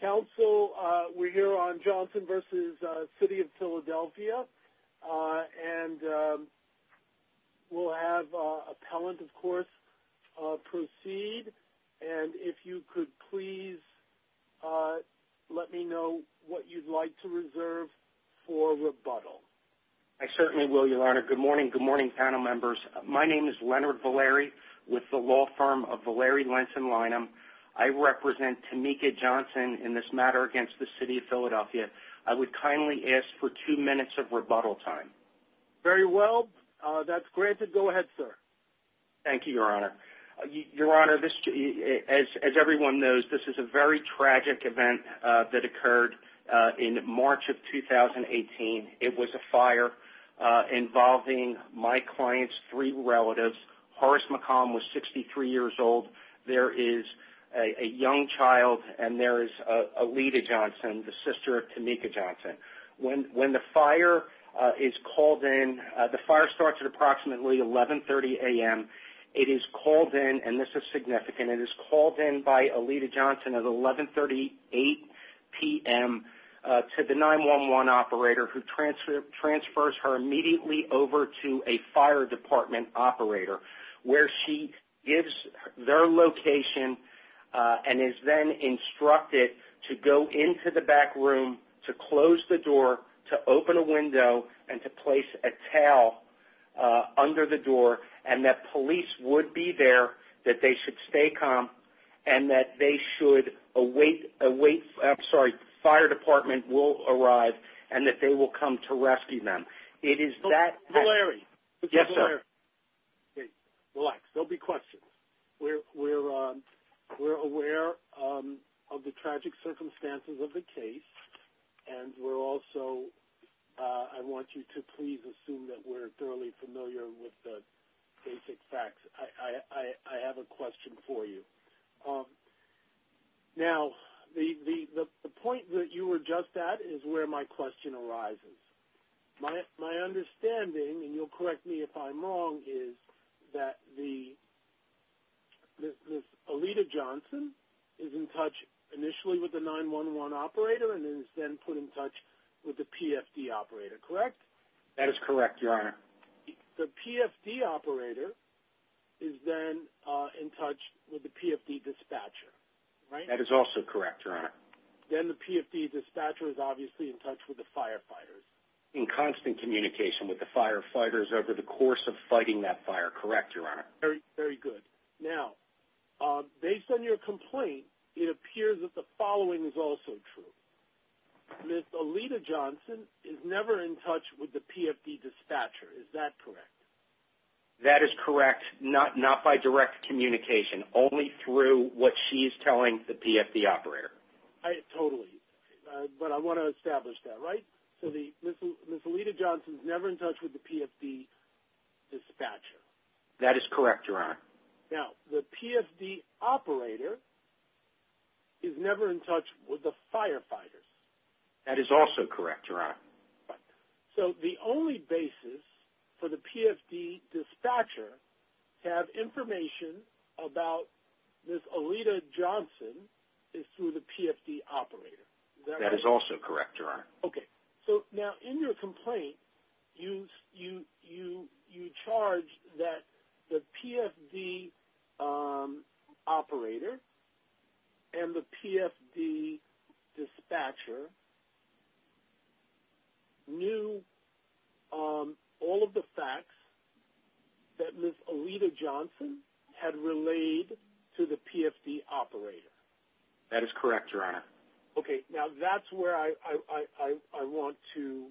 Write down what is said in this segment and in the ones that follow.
Council, we're here on Johnson v. City of Philadelphia and we'll have appellant of course proceed and if you could please let me know what you'd like to reserve for rebuttal. I certainly will your honor. Good morning, good morning panel members. My name is Leonard Valeri with the law firm of Valeri Lenton in this matter against the City of Philadelphia. I would kindly ask for two minutes of rebuttal time. Very well, that's granted. Go ahead sir. Thank you your honor. Your honor, as everyone knows this is a very tragic event that occurred in March of 2018. It was a fire involving my client's three relatives. Horace McComb was 63 years old. There is a young child and there is a Alita Johnson, the sister of Tameka Johnson. When the fire is called in, the fire starts at approximately 1130 a.m. It is called in, and this is significant, it is called in by Alita Johnson at 1138 p.m. to the 911 operator who transfers her immediately over to a fire department operator where she gives their location and is then instructed to go into the back room to close the door, to open a window, and to place a towel under the door and that police would be there, that they should stay calm, and that they should await, I'm sorry, that the fire department will arrive and that they will come to rescue them. It is that... Mr. Valeri. Yes sir. Relax, there will be questions. We're aware of the tragic circumstances of the case and we're also, I want you to please assume that we're thoroughly familiar with the basic facts. I have a question for you. Now, the point that you were just at is where my question arises. My understanding, and you'll correct me if I'm wrong, is that the Alita Johnson is in touch initially with the 911 operator and is then put in touch with the PFD operator, correct? That is correct, your honor. The PFD operator is then in touch with the PFD dispatcher is obviously in touch with the firefighters. In constant communication with the firefighters over the course of fighting that fire, correct your honor? Very, very good. Now, based on your complaint, it appears that the following is also true. Ms. Alita Johnson is never in touch with the PFD dispatcher, is that correct? That is correct, not by direct communication, only through what she is telling the PFD operator. Totally, but I want to establish that, right? So, Ms. Alita Johnson is never in touch with the PFD dispatcher. That is correct, your honor. Now, the PFD operator is never in touch with the firefighters. That is also correct, your honor. So, the only basis for the PFD dispatcher to have information about Ms. Alita Johnson is through the PFD operator. That is also correct, your honor. Okay, so now in your complaint, you charge that the PFD operator and the PFD dispatcher knew all of the facts that Ms. Alita Johnson had relayed to the PFD operator. That is correct, your honor. Okay, now that's where I want to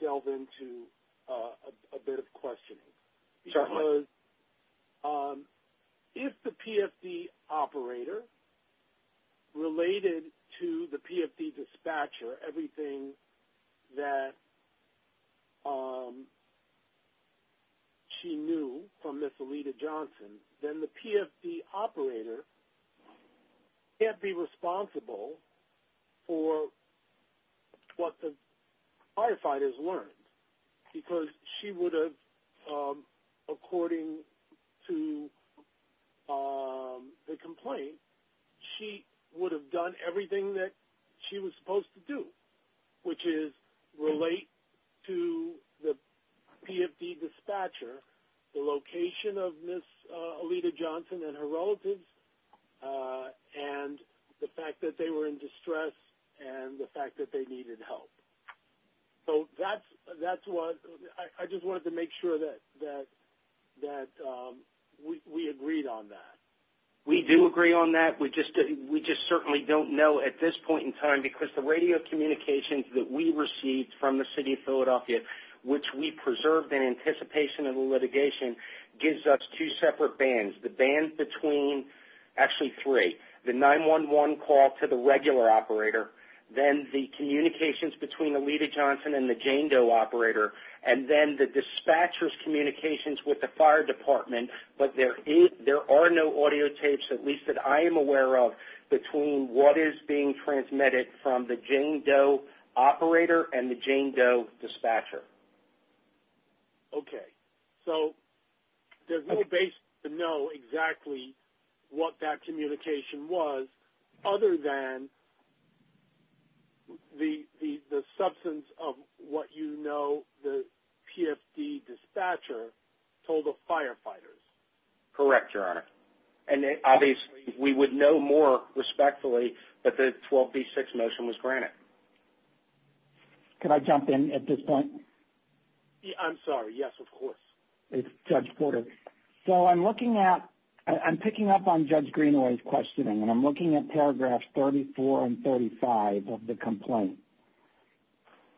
delve into a bit of questioning. If the PFD operator related to the PFD dispatcher everything that she knew from Ms. Alita Johnson, then the PFD operator can't be responsible for what the firefighters learned because she would have, according to the complaint, she would have done everything that she was supposed to do, which is relate to the PFD dispatcher the location of Ms. Alita Johnson and her relatives, and the fact that they were in distress, and the fact that they needed help. So, that's what I just wanted to make sure that we agreed on that. We do agree on that. We just certainly don't know at this point in time because the radio communications that we received from the City of Philadelphia, which we preserved in litigation, gives us two separate bands. The band between, actually three, the 911 call to the regular operator, then the communications between Alita Johnson and the Jane Doe operator, and then the dispatcher's communications with the fire department, but there are no audio tapes, at least that I am aware of, between what is being transmitted from the Jane Doe operator and the Jane Doe operator. So, there's no basis to know exactly what that communication was, other than the substance of what you know the PFD dispatcher told the firefighters. Correct, Your Honor, and obviously we would know more respectfully that the 12B6 motion was granted. Can I jump in at this point? I'm sorry, yes, of course. It's Judge Porter. So, I'm looking at, I'm picking up on Judge Greenaway's questioning, and I'm looking at paragraphs 34 and 35 of the complaint.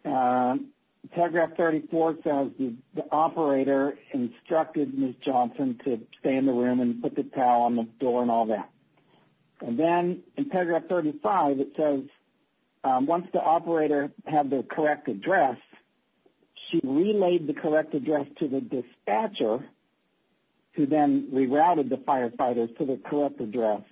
Paragraph 34 says the operator instructed Ms. Johnson to stay in the room and put the towel on the door and all Once the operator had the correct address, she relayed the correct address to the dispatcher, who then rerouted the firefighters to the correct address,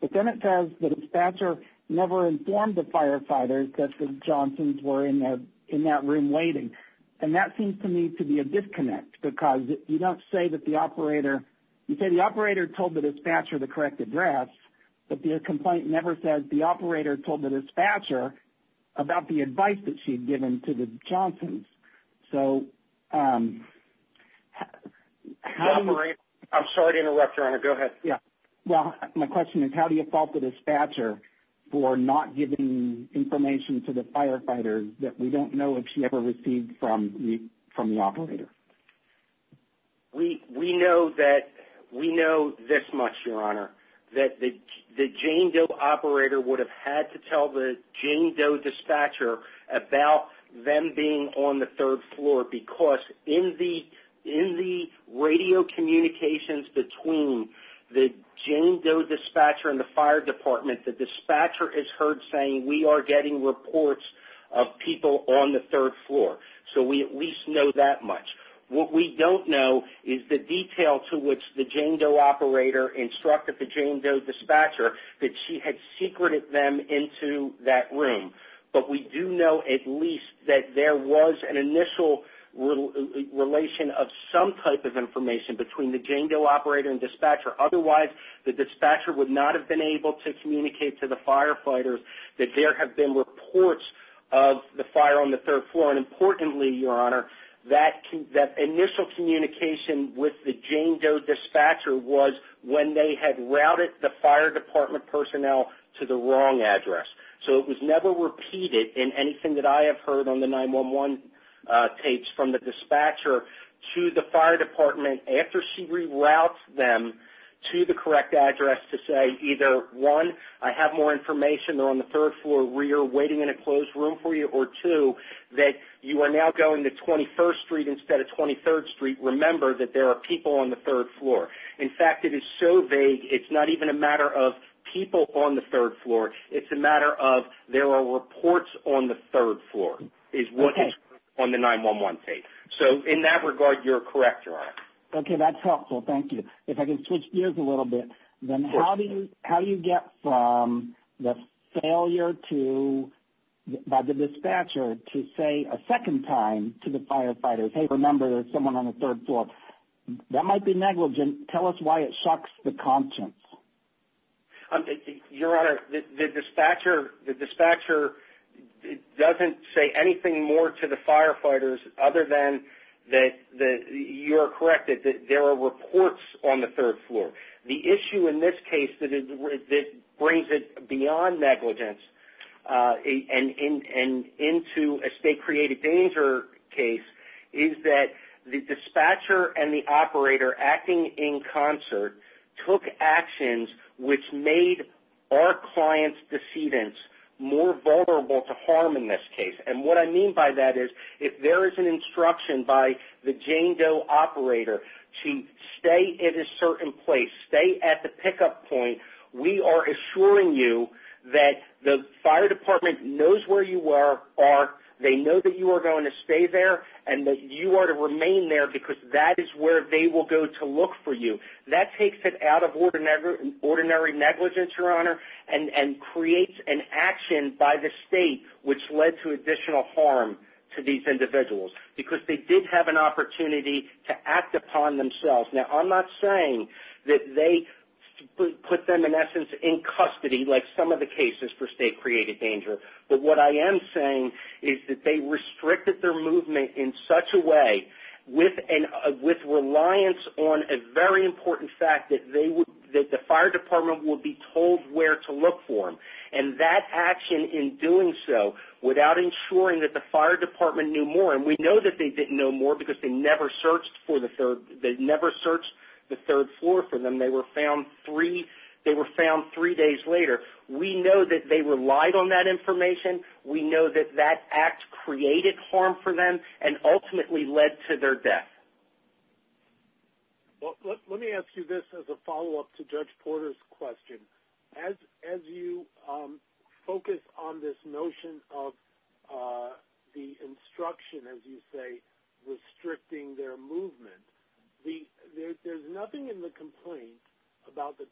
but then it says the dispatcher never informed the firefighters that Ms. Johnson were in that room waiting, and that seems to me to be a disconnect, because you don't say that the operator, you say the operator told the dispatcher the correct address, but the complaint never says the operator told the dispatcher about the advice that she'd given to the Johnsons. So, um, I'm sorry to interrupt, Your Honor, go ahead. Yeah, my question is, how do you fault the dispatcher for not giving information to the firefighters that we don't know if she ever received from the operator? We know that, we know this much, Your Honor, we don't know much from the Jane Doe dispatcher about them being on the third floor, because in the, in the radio communications between the Jane Doe dispatcher and the fire department, the dispatcher is heard saying we are getting reports of people on the third floor, so we at least know that much. What we don't know is the detail to which the Jane Doe operator instructed the Jane Doe dispatcher that she had secreted them into that room, but we do know at least that there was an initial relation of some type of information between the Jane Doe operator and dispatcher, otherwise the dispatcher would not have been able to communicate to the firefighters that there have been reports of the fire on the third floor, and importantly, Your Honor, that initial communication with the Jane Doe dispatcher was when they had routed the fire department personnel to the wrong address, so it was never repeated in anything that I have heard on the 911 tapes from the dispatcher to the fire department after she rerouted them to the correct address to say either, one, I have more information on the third floor where you're waiting in a closed room for you, or two, that you are now going to 21st Street instead of 23rd Street, remember that there are people on the third floor. In fact, it is so vague, it's not even a matter of people on the third floor, it's a matter of there are reports on the third floor, is what is on the 911 tape, so in that regard, you're correct, Your Honor. Okay, that's helpful, thank you. If I can switch gears a little bit, then how do you get from the failure to, by the dispatcher, to say a second time to the firefighters, hey, remember there's someone on the third floor, that might be negligent, tell us why it shocks the conscience. Your Honor, the dispatcher doesn't say anything more to the firefighters other than that you're correct, that there are reports on the third floor. The issue in this case that brings it beyond negligence and into a state created danger case, is that the dispatcher and the operator acting in concert, took actions which made our client's decedents more vulnerable to harm in this case, and what I mean by that is, if there is an instruction by the Jane Doe operator to stay in a certain place, stay at the pickup point, we are assuring you that the fire department knows where you are they know that you are going to stay there, and that you are to remain there because that is where they will go to look for you. That takes it out of ordinary negligence, Your Honor, and creates an action by the state which led to additional harm to these individuals, because they did have an opportunity to act upon themselves. Now, I'm not saying that they put them in essence in custody, like some of the cases for state created danger, but what I am saying is that they restricted their movement in such a way, with reliance on a very important fact, that the fire department will be told where to look for them, and that action in doing so, without ensuring that the fire department knew more, and we know that they didn't know more because they never searched for the third, they never searched the third floor for them, they were found three, they were found three days later. We know that they relied on that information, we know that that act created harm for them, and ultimately led to their death. Well, let me ask you this as a follow-up to Judge Porter's question. As you focus on this notion of the instruction, as you say, restricting their movement, there's nothing in the complaint about the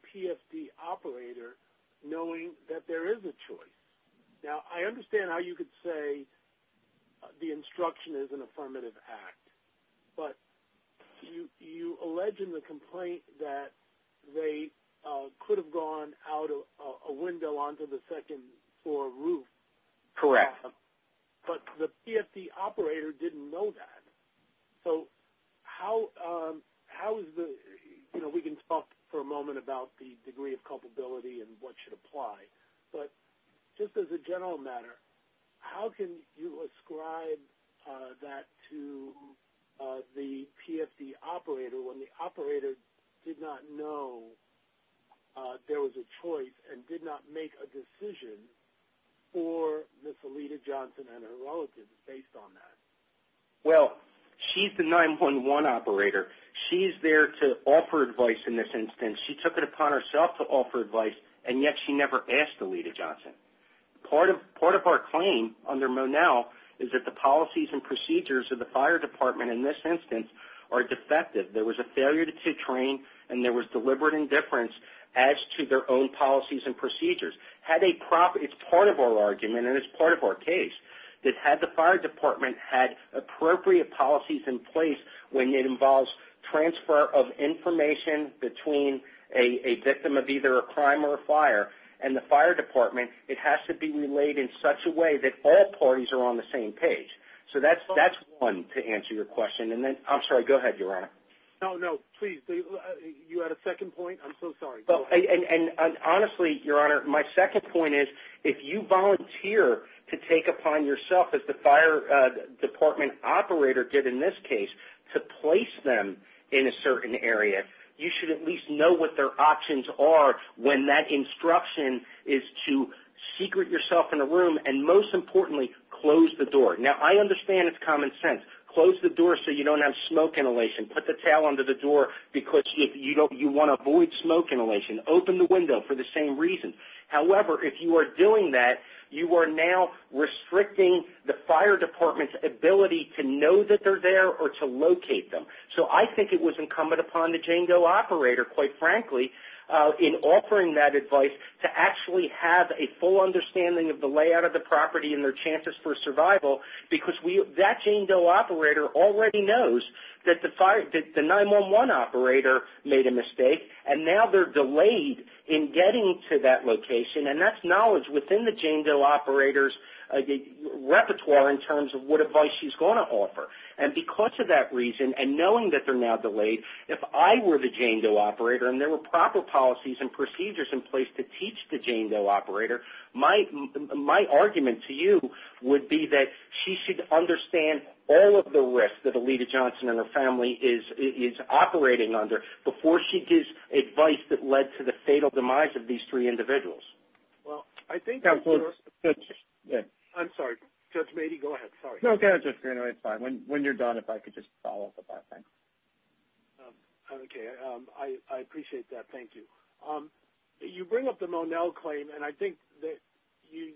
Now, I understand how you could say the instruction is an affirmative act, but you allege in the complaint that they could have gone out a window onto the second floor roof. Correct. But the PFD operator didn't know that, so how is the, you know, we can talk for a moment about the degree of culpability and what should apply, but just as a general matter, how can you ascribe that to the PFD operator when the operator did not know there was a choice and did not make a decision for Miss Alita Johnson and her relatives based on that? Well, she's the 911 operator. She's there to offer advice in this instance. She took it upon herself to offer advice, and yet she never asked Alita Johnson. Part of our claim under Monell is that the policies and procedures of the fire department in this instance are defective. There was a failure to train, and there was deliberate indifference as to their own policies and procedures. Had a proper, it's part of our argument, and it's part of our case, that had the fire department had appropriate policies in place when it involves transfer of information between a victim of either a crime or a fire, and the fire department, it has to be relayed in such a way that all parties are on the same page. So that's one to answer your question, and then, I'm sorry, go ahead, Your Honor. No, no, please. You had a second point? I'm so sorry. Well, and honestly, Your Honor, my second point is, if you volunteer to take upon yourself as the fire department operator did in this case to place them in a certain area, you should at least know what their options are when that instruction is to secret yourself in a room, and most importantly, close the door. Now, I understand it's common sense. Close the door so you don't have smoke inhalation. Put the towel under the door because you don't, you want to avoid smoke inhalation. Open the window for the same reason. However, if you are doing that, you are now restricting the fire department's ability to know that they're there or to locate them. So I think it was incumbent upon the Jane Doe operator, quite frankly, in offering that advice to actually have a full understanding of the layout of the property and their chances for survival because that Jane Doe operator already knows that the 911 operator made a mistake, and now they're delayed in getting to that location, and that's knowledge within the Jane Doe operator's repertoire in terms of what advice she's going to offer, and because of that reason and knowing that they're now delayed, if I were the Jane Doe operator and there were proper policies and procedures in place to teach the Jane Doe operator, my argument to you would be that she should understand all of the risks that Alita Johnson and her family is operating under before she gives advice that led to the fatal demise of these three if I could just follow up at that time. Okay, I appreciate that. Thank you. You bring up the Monell claim, and I think that you,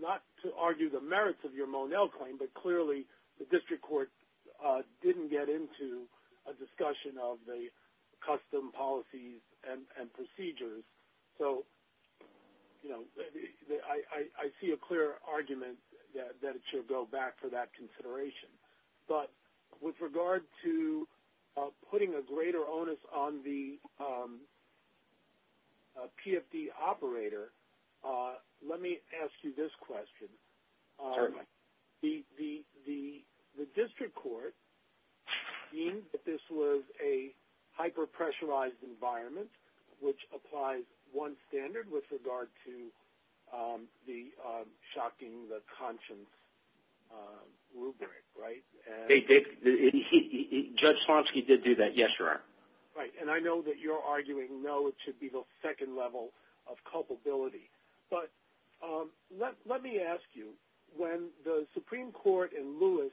not to argue the merits of your Monell claim, but clearly the district court didn't get into a discussion of the custom policies and procedures. So, you know, I see a clear argument that it should go back to that consideration, but with regard to putting a greater onus on the PFD operator, let me ask you this question. The district court deemed that this was a hyper pressurized environment, which applies one standard with regard to the shocking the conscience rubric, right? Judge Swansky did do that, yes, sir. Right, and I know that you're arguing no, it should be the second level of culpability, but let me ask you, when the Supreme Court and Lewis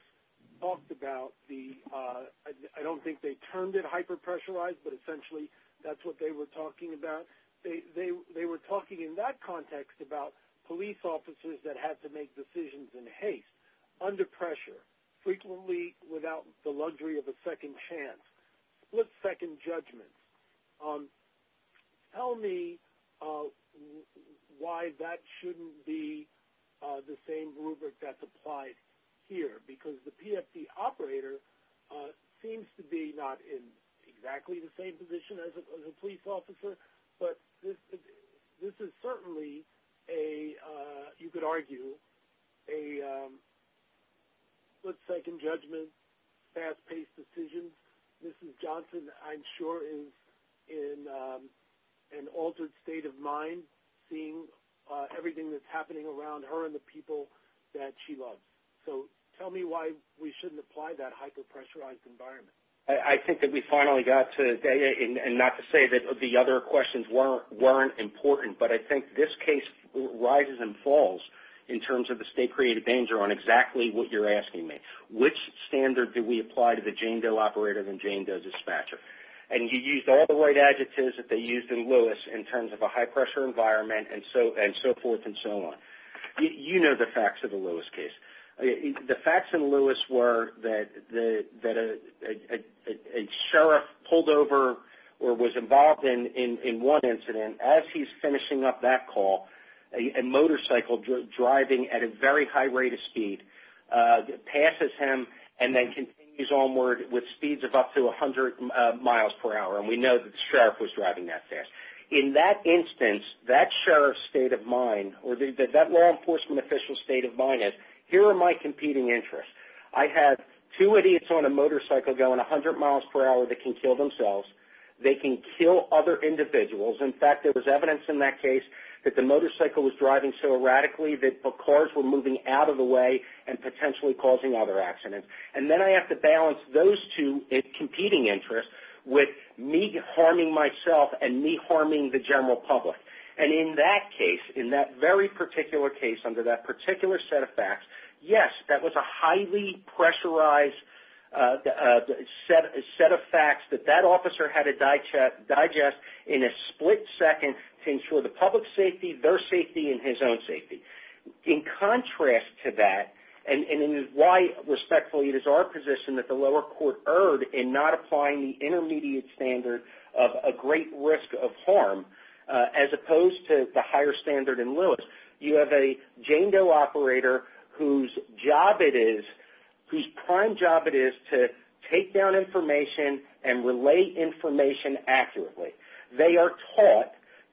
talked about the, I don't think they termed it hyper pressurized, but essentially that's what they were talking about, they were talking in that context about police officers that had to make decisions in haste, under pressure, frequently without the luxury of a second chance, split-second judgment. Tell me why that shouldn't be the same rubric that's applied here, because the PFD operator seems to be not in exactly the same position as a police officer, but this is certainly a, you could argue, a split-second judgment, fast-paced decision. Mrs. Johnson, I'm sure, is in an altered state of mind, seeing everything that's happening around her and the people that she loves. So tell me why we shouldn't apply that hyper pressurized environment? I think that we finally got to, and not to say that the other questions weren't important, but I think this case rises and falls in terms of the state-created danger on exactly what you're asking me. Which standard did we apply to the Jane Doe operator and Jane Doe dispatcher? And you used all the right adjectives that they used in Lewis in terms of a high pressure environment and so forth and so on. You know the facts of the sheriff pulled over or was involved in one incident. As he's finishing up that call, a motorcycle driving at a very high rate of speed passes him and then continues onward with speeds of up to a hundred miles per hour, and we know that the sheriff was driving that fast. In that instance, that sheriff's state of mind, or that law enforcement official's state of mind is, here are my competing interests. I had two idiots on a motorcycle going a hundred miles per hour that can kill themselves. They can kill other individuals. In fact, there was evidence in that case that the motorcycle was driving so erratically that cars were moving out of the way and potentially causing other accidents. And then I have to balance those two competing interests with me harming myself and me harming the general public. And in that case, in that very particular case, under that particular set of facts, yes, that was a highly pressurized set of facts that that officer had to digest in a split second to ensure the public safety, their safety, and his own safety. In contrast to that, and why respectfully it is our position that the lower court erred in not applying the intermediate standard of a great risk of harm, as opposed to the higher standard in Lewis, you have a Jane Doe operator whose job it is, whose prime job it is, to take down information and relay information accurately. They are taught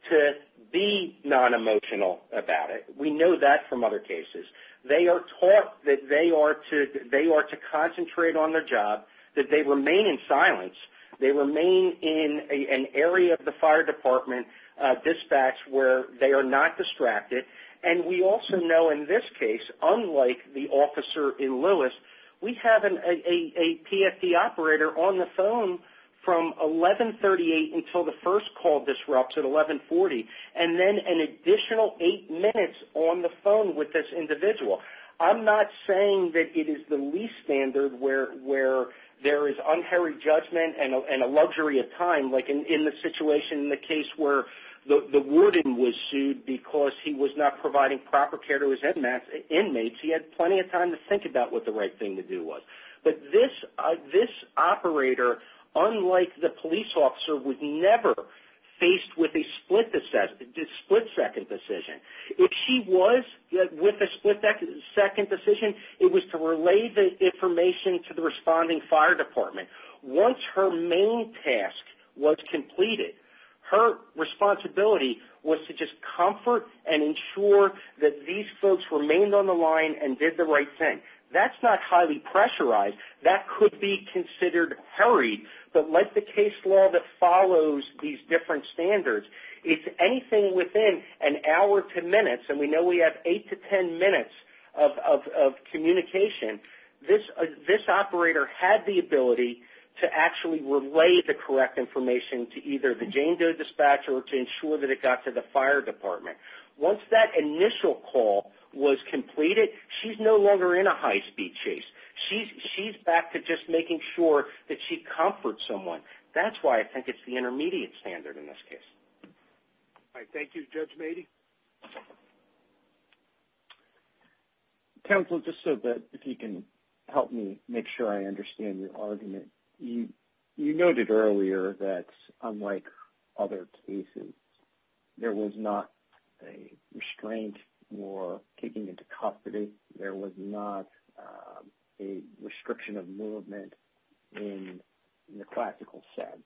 to be non-emotional about it. We know that from other cases. They are taught that they are to concentrate on their job, that they remain in silence, they remain in an area of the fire department dispatch where they are not distracted, and we also know in this case, unlike the officer in Lewis, we have a PFD operator on the phone from 1138 until the first call disrupts at 1140, and then an additional eight minutes on the phone with this individual. I'm not saying that it is the least standard where there is unhurried judgment and a luxury of time, like in the situation in the case where the warden was sued because he was not providing proper care to his inmates. He had plenty of time to think about what the right thing to do was, but this operator, unlike the police officer, was never faced with a split second decision. If she was with a split second decision, it was to relay the information to the responding fire department. Once her main task was to just comfort and ensure that these folks remained on the line and did the right thing. That's not highly pressurized. That could be considered hurried, but like the case law that follows these different standards, if anything within an hour to minutes, and we know we have eight to ten minutes of communication, this operator had the ability to actually relay the correct information to either the Jane Doe dispatcher or to ensure that it got to the fire department. Once that initial call was completed, she's no longer in a high-speed chase. She's back to just making sure that she comforts someone. That's why I think it's the intermediate standard in this case. Thank you, Judge Mady. Temple, just so that if you can help me make sure I understand your argument. You noted earlier that unlike other cases, there was not a restraint or taking into confidence. There was not a restriction of movement in the practical sense.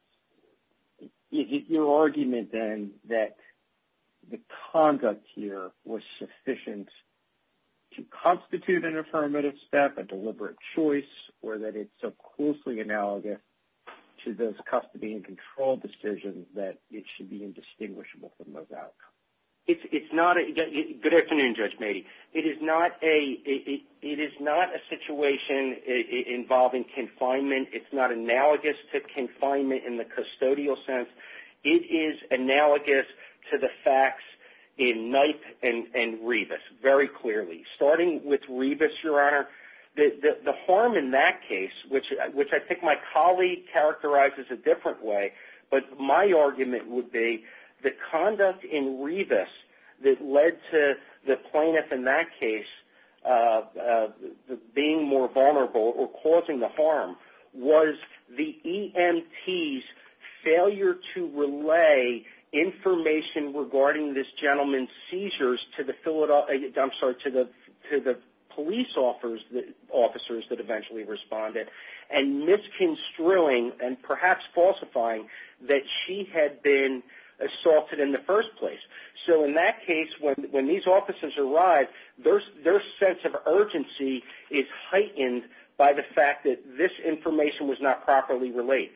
Is it your argument then that the conduct here was sufficient to constitute an affirmative step, a deliberate choice, or that it's so analogous to those custody and control decisions that it should be indistinguishable from those outcomes? It's not, again, good afternoon, Judge Mady. It is not a situation involving confinement. It's not analogous to confinement in the custodial sense. It is analogous to the facts in Knight and Rebus, very clearly. Starting with Rebus, Your Honor, the harm in that case, which I think my colleague characterizes a different way, but my argument would be the conduct in Rebus that led to the plaintiff in that case being more vulnerable or causing the harm was the EMT's failure to relay information regarding this gentleman's seizures to the police officers that eventually responded and misconstruing and perhaps falsifying that she had been assaulted in the first place. In that case, when these officers arrived, their sense of urgency is heightened by the fact that this information was not properly relayed.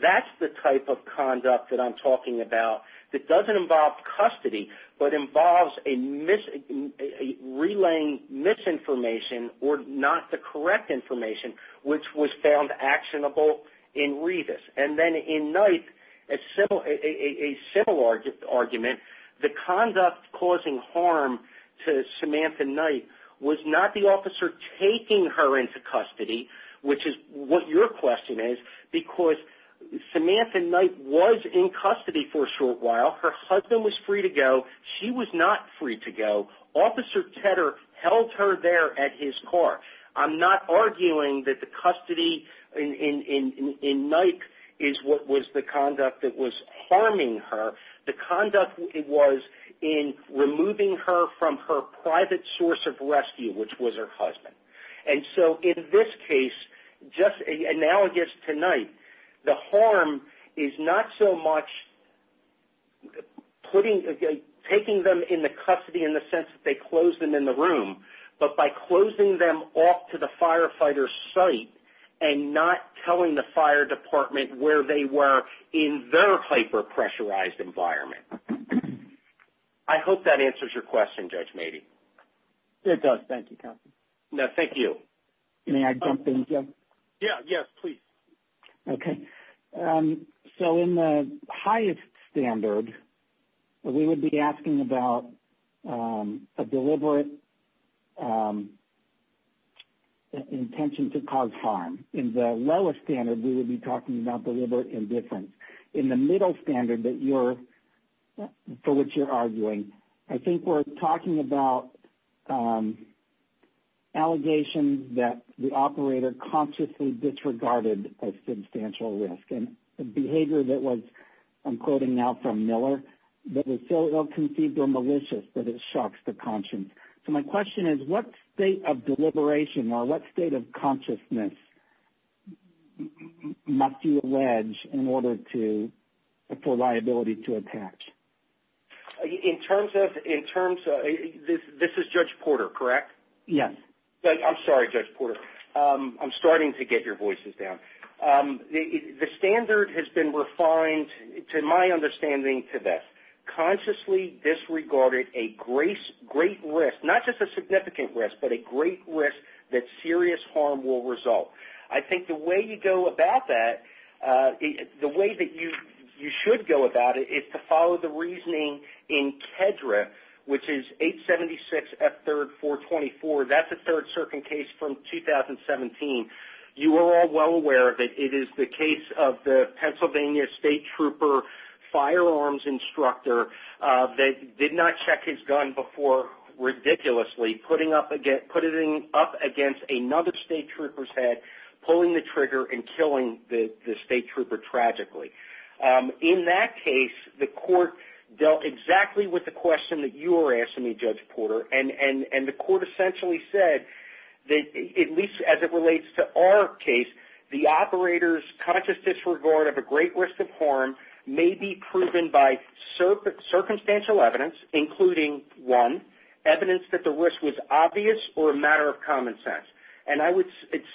That's the type of conduct that I'm talking about that doesn't involve custody, but involves a relaying misinformation or not the correct information, which was found actionable in Rebus. And then in Knight, a similar argument, the conduct causing harm to Samantha Knight was not the officer taking her into custody, which is what your question is, because Samantha Knight was in custody for a short while. Her husband was free to go. She was not free to go. Officer Tedder held her there at his car. I'm not arguing that the custody in Knight is what was the conduct that was harming her. The conduct was in removing her from her private source of rescue, which was her husband. And so in this case, just analogous to Knight, the harm is not so much taking them in the custody in the sense that they closed them in the room, but by closing them off to the firefighter's site and not telling the fire department where they were in their hyper pressurized environment. I hope that answers your question. So in the highest standard, we would be asking about a deliberate intention to cause harm. In the lowest standard, we would be talking about deliberate indifference. In the middle standard for which you're disregarded a substantial risk. And the behavior that was, I'm quoting now from Miller, that was so ill-conceived or malicious that it shocks the conscience. So my question is, what state of deliberation or what state of consciousness must you allege in order to afford liability to a patch? In terms of, this is Judge Porter, correct? Yeah. I'm sorry, Judge Porter. I'm starting to get your voices down. The standard has been refined, to my understanding, to this. Consciously disregarded a great risk, not just a significant risk, but a great risk that serious harm will result. I think the way you go about that, the way that you should go about it, is to follow the which is 876 F 3rd 424. That's a third-circuit case from 2017. You are all well aware that it is the case of the Pennsylvania State Trooper firearms instructor that did not check his gun before ridiculously, putting up again, put it in up against another State Trooper's head, pulling the trigger and killing the State Trooper tragically. In that case, the court dealt exactly with the question that you are asking me, Judge Porter. The court essentially said that, at least as it relates to our case, the operator's conscious disregard of a great risk of harm may be proven by circumstantial evidence, including one, evidence that the risk was obvious or a matter of common sense. I would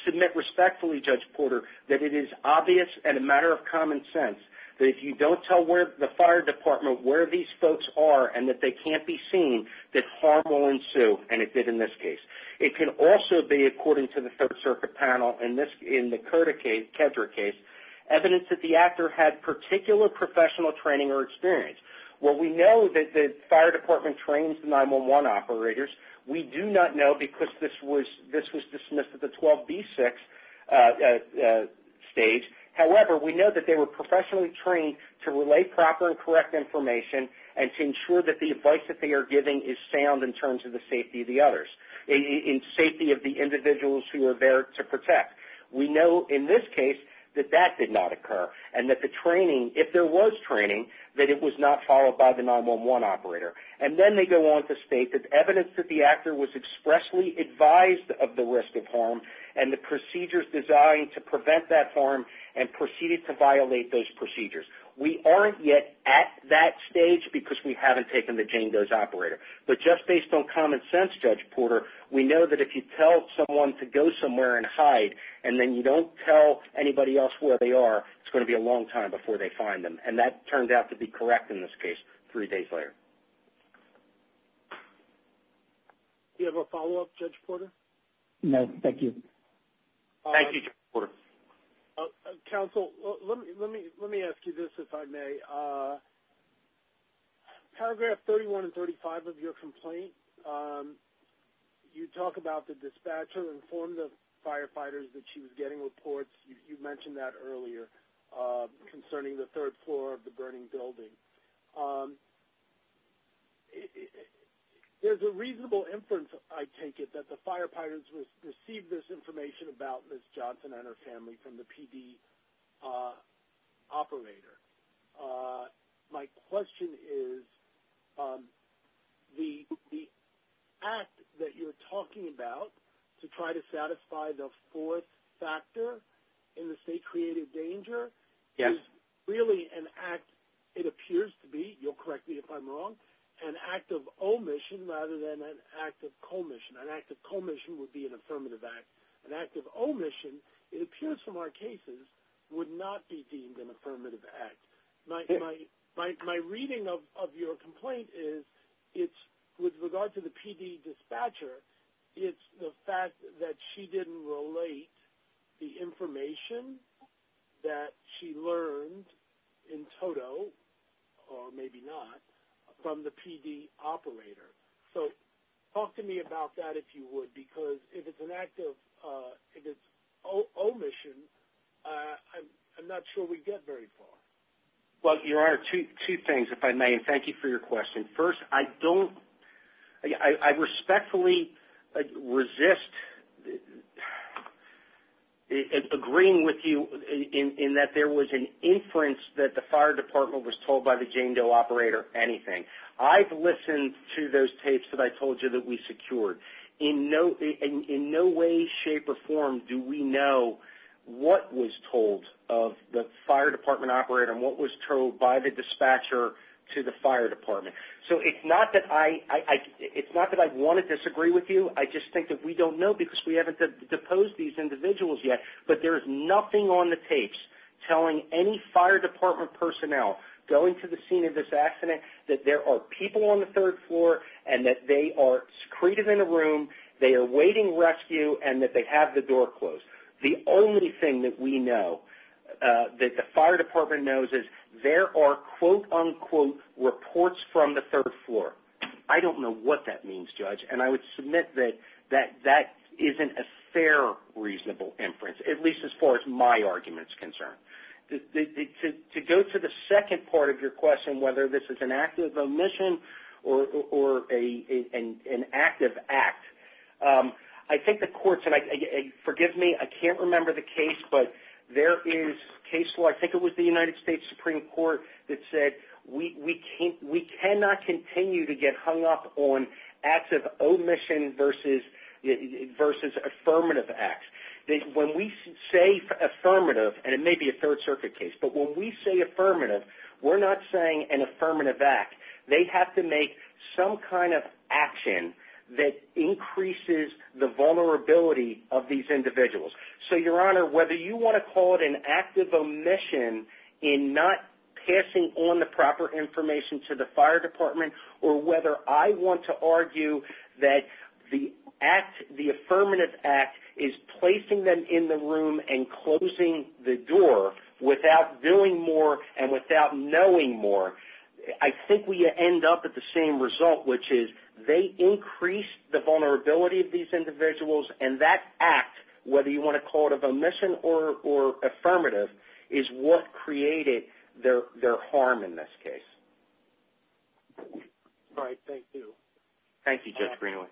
submit respectfully, Judge Porter, that it is obvious and a matter of common sense. If you don't tell the fire department where these folks are and that they can't be seen, that harm will ensue, and it did in this case. It can also be, according to the third-circuit panel, and this in the Kedra case, evidence that the actor had particular professional training or experience. Well, we know that the fire department trains 9-1-1 operators. We do not know, because this was dismissed at the 12B6 stage. However, we know that they were professionally trained to relay proper and correct information and to ensure that the advice that they are giving is sound in terms of the safety of the others, in safety of the individuals who are there to protect. We know, in this case, that that did not occur and that the training, if there was training, that it was not followed by the 9-1-1 operator. And then they go on to state that evidence that the actor was expressly advised of the risk of harm and the procedures designed to prevent that harm and proceeded to violate those procedures. We aren't yet at that stage because we haven't taken the Jane Doe's operator, but just based on common sense, Judge Porter, we know that if you tell someone to go somewhere and hide and then you don't tell anybody else where they are, it's going to be a long time before they find them, and that turned out to be correct in this case through day fire. Do you have a follow-up, Judge Porter? No, thank you. Thank you, Judge Porter. Counsel, let me ask you this, if I may. Paragraph 3135 of your complaint, you talk about the dispatcher informed the firefighters that she was getting reports. You mentioned that earlier concerning the third floor of the building. There's a reasonable inference, I take it, that the firefighters received this information about Ms. Johnson and her family from the PD operator. My question is, the act that you're talking about to try to satisfy the fourth factor in the state-created danger, is really an act, it appears to be, you'll correct me if I'm wrong, an act of omission rather than an act of commission. An act of commission would be an affirmative act. An act of omission, it appears from our cases, would not be deemed an affirmative act. My reading of your complaint is, it's with regard to the PD dispatcher, it's the fact that she was getting reports, believe it or not, from the PD operator. So, talk to me about that if you would, because if it's an act of omission, I'm not sure we'd get very far. Well, Your Honor, two things, if I may. Thank you for your question. First, I don't, I respectfully resist agreeing with you in that there was an inference that the PD operator, anything. I've listened to those tapes that I told you that we secured. In no way, shape, or form do we know what was told of the fire department operator and what was told by the dispatcher to the fire department. So, it's not that I, it's not that I want to disagree with you, I just think that we don't know because we haven't deposed these individuals yet, but there's nothing on the tapes telling any fire department personnel going to the scene of this accident that there are people on the third floor and that they are secretive in a room, they are waiting rescue, and that they have the door closed. The only thing that we know, that the fire department knows, is there are quote, unquote, reports from the third floor. I don't know what that means, Judge, and I would submit that that isn't a fair, reasonable inference, at least as far as my argument is concerned. To go to the second part of your question, whether this is an act of omission or an active act, I think the courts, and forgive me, I can't remember the case, but there is case law, I think it was the United States Supreme Court, that said we cannot continue to get hung up on acts of omission versus affirmative acts. When we say affirmative, and it may be a third circuit case, but when we say affirmative, we're not saying an affirmative act. They have to make some kind of action that increases the vulnerability of these individuals. Your Honor, whether you want to call it an act of omission in not passing on the proper information to the fire department, or whether I want to argue that the affirmative act is placing them in the room and closing the door without doing more and without knowing more, I think we end up at the same result, which is they increase the vulnerability of these individuals, and that act, whether you want to call it an omission or affirmative, is what created their harm in this case. Thank you, Judge Greenwood.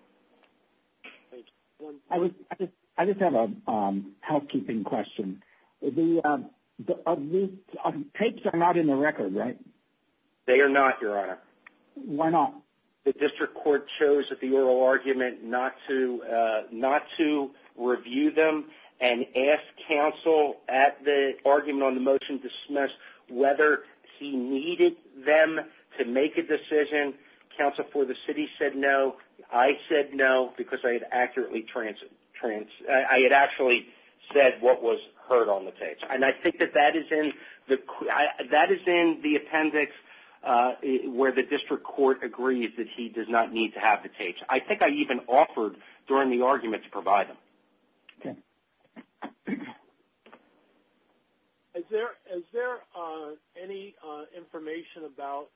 I just have a housekeeping question. The tapes are not in the record, right? They are not, Your Honor. Why not? The district court chose at the oral argument not to review them and asked counsel at the argument on the motion to dismiss whether he needed them to make a decision. Counsel for the city said no. I said no because I had actually said what was heard on the tapes. And I think that that is in the appendix where the district court agrees that he does not need to have the tapes. I think I even offered during the argument to provide them. Is there any information about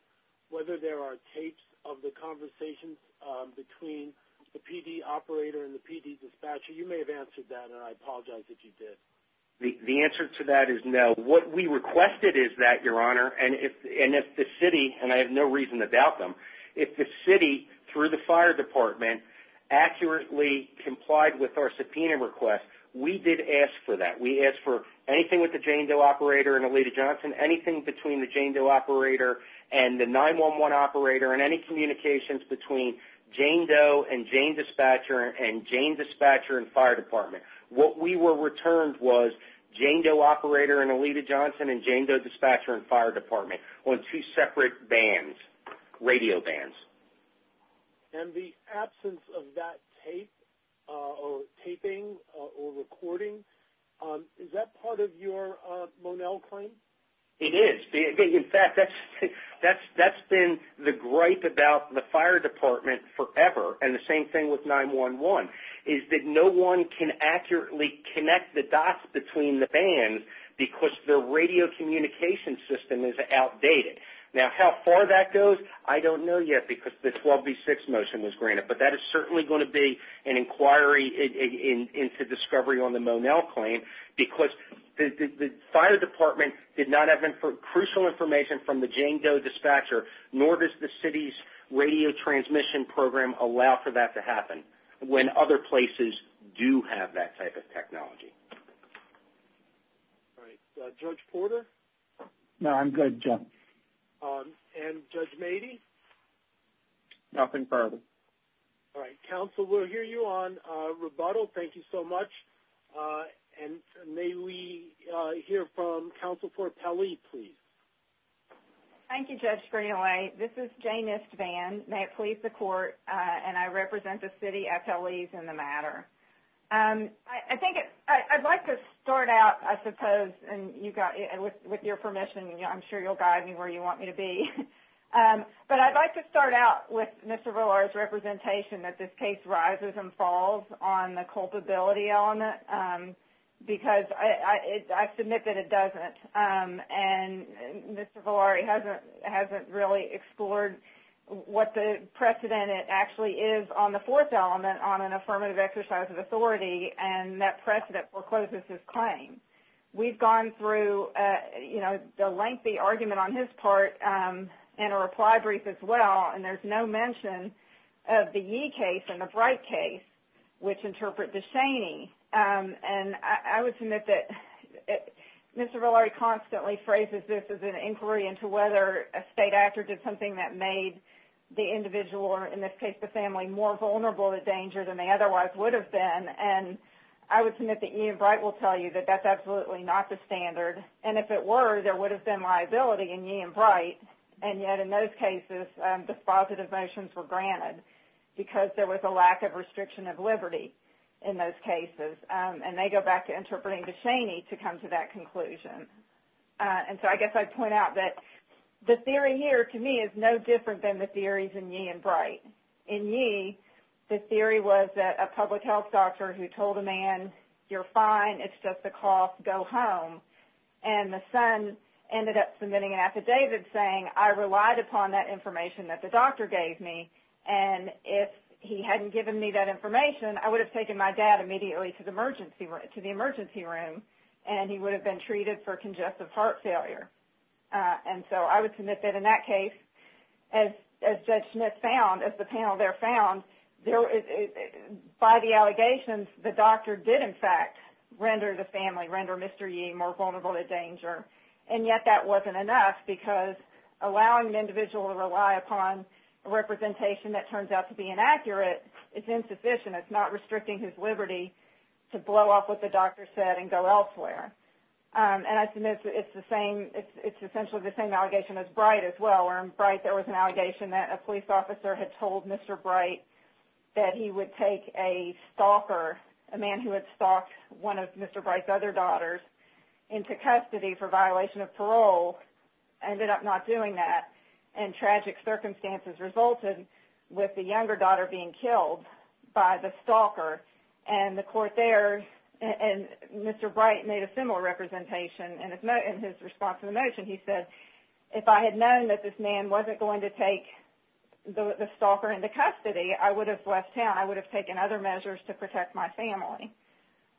whether there are tapes of the conversations between the PD operator and the PD dispatcher? You may have answered that, and I apologize if you did. The answer to that is no. What we requested is that, Your Honor, and if the city, and I have no reason to doubt them, if the city, through the fire department, accurately complied with our subpoena request, we did ask for that. We asked for anything with the Jane Doe operator and Alita Johnson, anything between the Jane Doe operator and the 911 operator, and any communications between Jane Doe and Jane dispatcher and Jane dispatcher and fire department. What we were returned was Jane Doe operator and Alita Johnson and Jane Doe dispatcher and fire department on two separate bands, radio bands. And the absence of that tape or taping or recording, is that part of your Monell claim? It is. In fact, that's been the gripe about the fire department forever, and the same thing with 911, is that no one can accurately connect the dots between the bands because their radio communication system is outdated. Now, how far that goes, I don't know yet because the 12B6 motion was granted, but that is certainly going to be an inquiry into discovery on the Monell claim because the fire department did not have crucial information from the Jane Doe dispatcher, nor does the city's radio transmission program allow for that to happen, when other places do have that type of technology. All right. Judge Porter? No, I'm good, John. And Judge Mady? Nothing further. All right. Counsel, we'll hear you on rebuttal. Thank you so much. And may we hear from Counsel for Pelley, please? Thank you, Judge Greenaway. This is Jane Nistvan. May it please the Court, and I represent the city FLEs in the matter. I think it's – I'd like to start out, I suppose, and you've got – with your permission, I'm sure you'll guide me where you want me to be. But I'd like to start out with Mr. Villar's representation that this case rises and falls on the culpability element because I submit that it doesn't. And Mr. Villar hasn't really explored what the precedent actually is on the fourth element on an affirmative exercise of authority, and that precedent forecloses his claim. We've gone through, you know, the lengthy argument on his part in a reply brief as well, and there's no mention of the Yee case and the Bright case, which interpret the Shaney. And I would submit that Mr. Villar constantly phrases this as an inquiry into whether a state actor did something that made the individual, or in this case, the family, more vulnerable to danger than they otherwise would have been. And I would submit that Yee and Bright will tell you that that's absolutely not the standard. And if it were, there would have been liability in Yee and Bright. And yet in those cases, the positive motions were granted because there was a lack of restriction of liberty in those cases. And they go back to interpreting the Shaney to come to that conclusion. And so I guess I'd point out that the theory here, to me, is no different than the theories in Yee and Bright. In Yee, the theory was that a public health doctor who told a man, you're fine, it's just a cough, go home. And the son ended up submitting an affidavit saying, I relied upon that information that the doctor gave me. And if he hadn't given me that information, I would have taken my dad immediately to the emergency room. And he would have been treated for congestive heart failure. And so I would submit that in that case, as Judge Smith found, as the panel there found, by the allegations, the doctor did in fact render the family, render Mr. Yee more vulnerable to danger. And yet that wasn't enough because allowing an individual to rely upon a representation that turns out to be inaccurate is insufficient. It's not restricting his liberty to blow up what the doctor said and go elsewhere. And I submit it's the same, it's essentially the same allegation as Bright as well. In Bright, there was an allegation that a police officer had told Mr. Bright that he would take a stalker, a man who had stalked one of Mr. Bright's other daughters, into custody for violation of parole. Ended up not doing that. And tragic circumstances resulted with the younger daughter being killed by the stalker. And the court there, and Mr. Bright made a similar representation. And in his response to the notion, he said, if I had known that this man wasn't going to take the stalker into custody, I would have left town. I would have taken other measures to protect my family.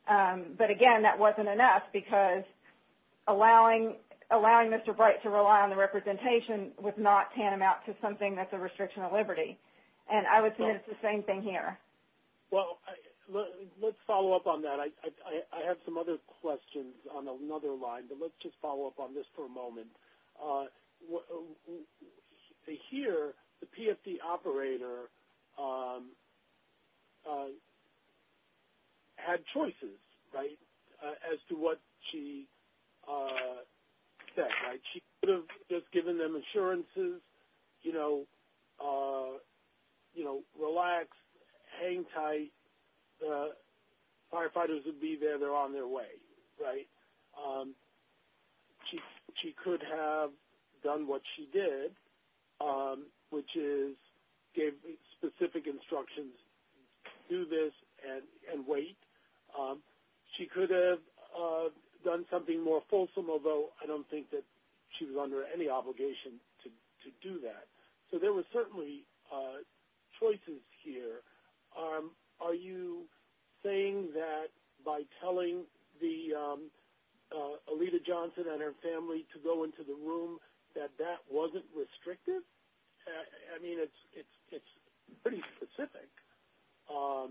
But again, that wasn't enough because allowing Mr. Bright to rely on the representation was not tantamount to something that's a restriction of liberty. And I would say it's the same thing here. Well, let's follow up on that. I have some other questions on another line, but let's just follow up on this for a moment. Here, the PFD operator had choices, right, as to what she said, right? She could have just given them assurances, you know, relax, hang tight. The firefighters would be there. They're on their way, right? She could have done what she did, which is gave specific instructions, do this and wait. She could have done something more fulsome, although I don't think that she was under any obligation to do that. So there were certainly choices here. Are you saying that by telling Alita Johnson and her family to go into the room that that wasn't restrictive? I mean, it's pretty specific. How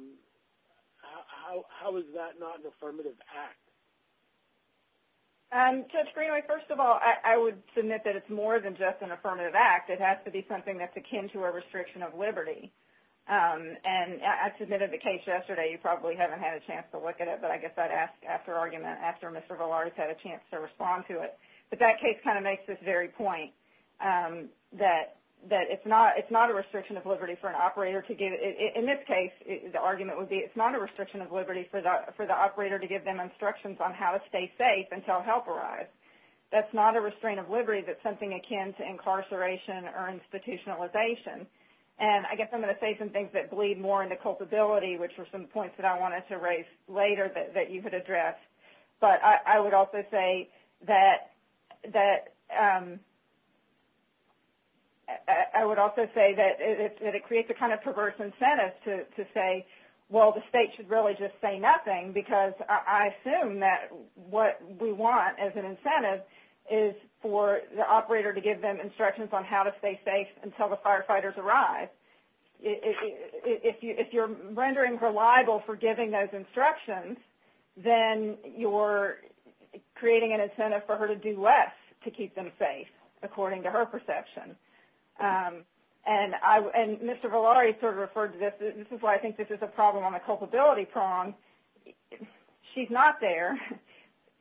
is that not an affirmative act? Judge Greenlee, first of all, I would submit that it's more than just an affirmative act. It has to be something that's akin to a restriction of liberty. And I submitted the case yesterday. You probably haven't had a chance to look at it, but I guess I'd ask after argument, after Mr. Valares had a chance to respond to it. But that case kind of makes this very point that it's not a restriction of liberty for an operator to get it. In this case, the argument would be it's not a restriction of liberty for the operator to give them instructions on how to stay safe until help arrives. That's not a restraint of liberty, but something akin to incarceration or institutionalization. And I guess I'm going to say some things that bleed more into culpability, which were some points that I wanted to raise later that you had addressed. But I would also say that it creates a kind of perverse incentive to say, well, the state should really just say nothing because I assume that what we want as an incentive is for the operator to give them instructions on how to stay safe until the firefighters arrive. If you're rendering her liable for giving those instructions, then you're creating an incentive for her to do less to keep them safe, according to her perception. And Mr. Velardi sort of referred to this. This is why I think this is a problem on the culpability prong. She's not there,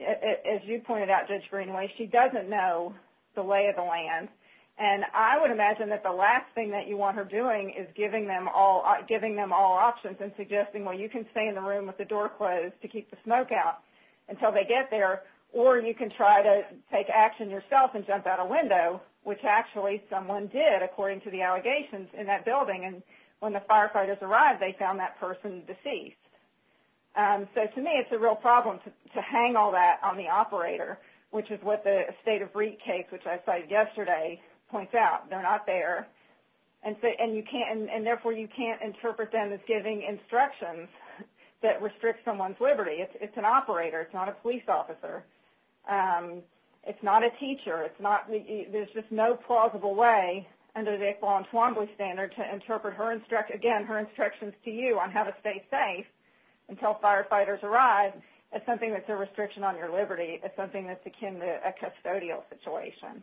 as you pointed out, Judge Greenway. She doesn't know the lay of the land. And I would imagine that the last thing that you want her doing is giving them all options and suggesting, well, you can stay in the room with the door closed to keep the smoke out until they get there, which actually someone did, according to the allegations in that building. And when the firefighters arrived, they found that person deceased. So to me, it's a real problem to hang all that on the operator, which is what the State of Reap case, which I cited yesterday, points out. They're not there. And therefore, you can't interpret them as giving instructions that restrict someone's liberty. It's an operator. It's not a police officer. It's not a teacher. There's just no plausible way, under the Yvonne Twombly standard, to interpret, again, her instructions to you on how to stay safe until firefighters arrive as something that's a restriction on your liberty, as something that's akin to a custodial situation.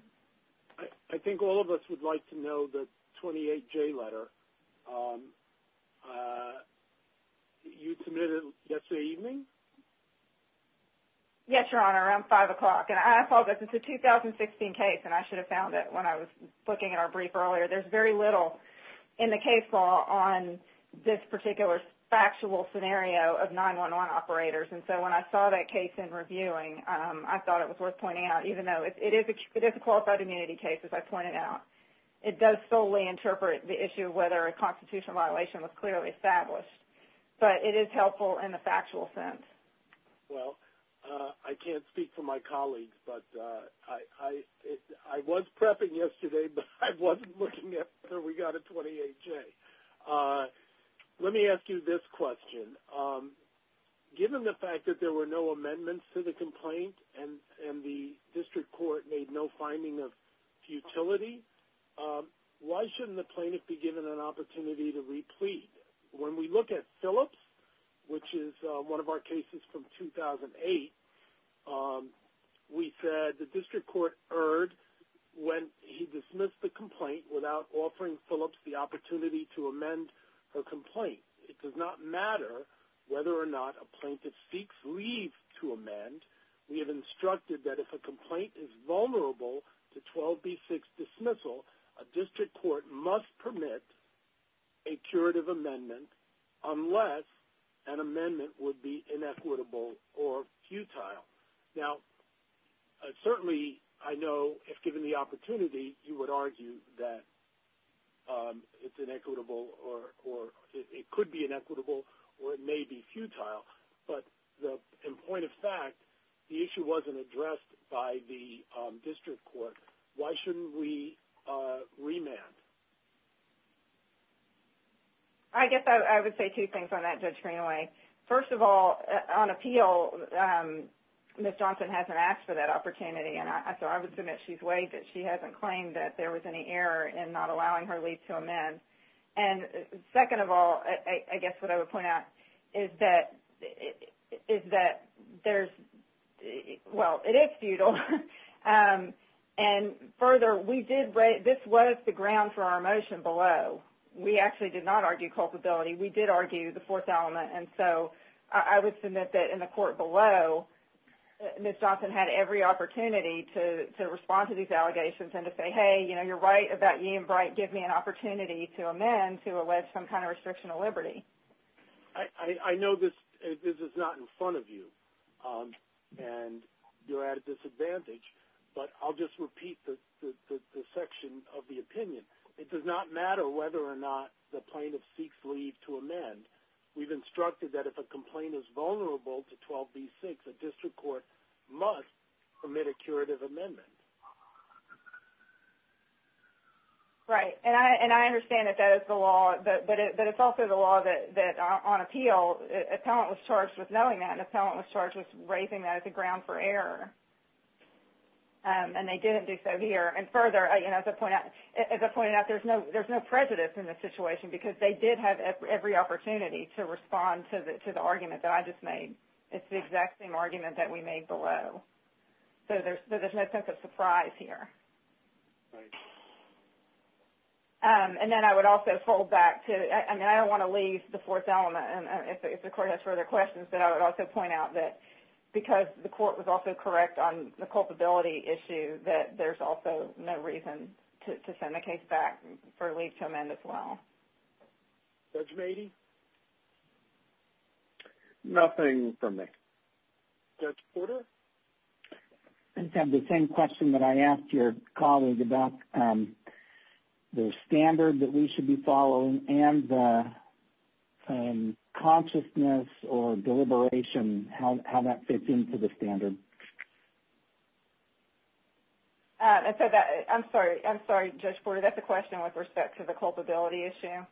I think all of us would like to know the 28J letter. You submitted it yesterday evening? Yes, Your Honor, around 5 o'clock. And I apologize. It's a 2016 case, and I should have found it when I was looking at our brief earlier. There's very little in the case law on this particular factual scenario of 911 operators. And so when I saw that case in reviewing, I thought it was worth pointing out, even though it is a qualified immunity case, as I pointed out. It does solely interpret the issue of whether a constitutional violation was clearly established. But it is helpful in the factual sense. Well, I can't speak for my colleagues, but I was prepping yesterday, but I wasn't looking after we got a 28J. Let me ask you this question. Given the fact that there were no amendments to the complaint, and the district court made no finding of futility, why shouldn't the plaintiff be given an opportunity to replead? When we look at Phillips, which is one of our cases from 2008, we said the district court erred when he dismissed the complaint without offering Phillips the opportunity to amend her complaint. It does not matter whether or not a plaintiff seeks leave to amend. We have instructed that if a complaint is vulnerable to 12B6 dismissal, a district court must permit a curative amendment unless an amendment would be inequitable or futile. Now, certainly, I know if given the opportunity, you would argue that it's inequitable or it could be inequitable or it may be futile. But in point of fact, the issue wasn't addressed by the district court. Why shouldn't we remand? I guess I would say two things on that, Judge Greenaway. First of all, on appeal, Ms. Johnson hasn't asked for that opportunity, and so I would submit she's way that she hasn't claimed that there was any error in not allowing her leave to amend. And second of all, I guess what I would point out is that there's... Well, it is futile. And further, this was the ground for our motion below. We actually did not argue culpability. We did argue the fourth element. And so I would submit that in the court below, Ms. Johnson had every opportunity to respond to these allegations and to say, hey, you're right about Ian Bright giving me an opportunity to amend to allege some kind of restriction of liberty. I know this is not in front of you and you're at a disadvantage, but I'll just repeat the section of the opinion. It does not matter whether or not the plaintiff seeks leave to amend. We've instructed that if a complaint is vulnerable to 12b-6, a district court must permit a curative amendment. Right. And I understand that that is the law, but it's also the law that on appeal, a talent was charged with knowing that and a talent was charged with raising that as a ground for error. And they didn't do so here. And further, as I pointed out, there's no prejudice in this situation because they did have every opportunity to respond to the argument that I just made. It's the exact same argument that we made below. So there's no sense of surprise here. Right. And then I would also pull back to... I mean, I don't want to leave the fourth element. And if the court has further questions, then I would also point out that because the court was also correct on the culpability issue that there's also no reason to send the case back for leave to amend as well. Judge Beatty? Nothing from me. Judge Porter? I just have the same question that I asked your colleague about the standard that we should be following and the consciousness or deliberation, how that fits into the standard. I'm sorry. I'm sorry, Judge Porter. That's a question with respect to the culpability issue.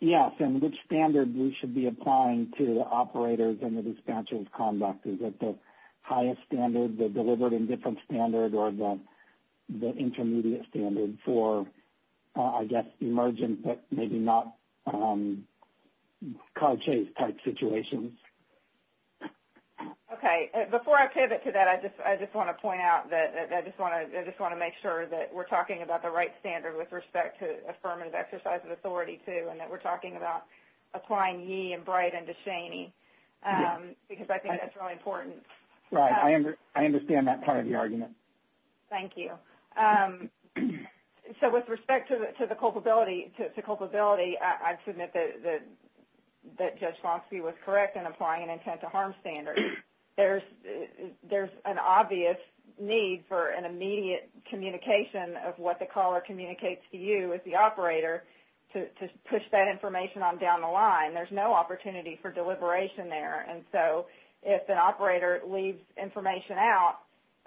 Yes. And which standard we should be applying to the operators and the dispatchers' conduct? Is it the highest standard, the deliberate and different standard, or the intermediate standard for, I guess, emergent but maybe not caught chase type situations? Okay. Before I pivot to that, I just want to point out that I just want to make sure that we're talking about the right standard with respect to affirmative exercise of authority, too, and that we're talking about applying ye and Brighton to Cheney because I think that's really important. Right. I understand that part of the argument. Thank you. So, with respect to the culpability, to culpability, I'd submit that Judge Swanski was correct in applying an intent to harm standard. There's an obvious need for an immediate communication of what the caller communicates to you as the operator to push that information on down the line. There's no opportunity for deliberation there. And so, if an operator leaves information out,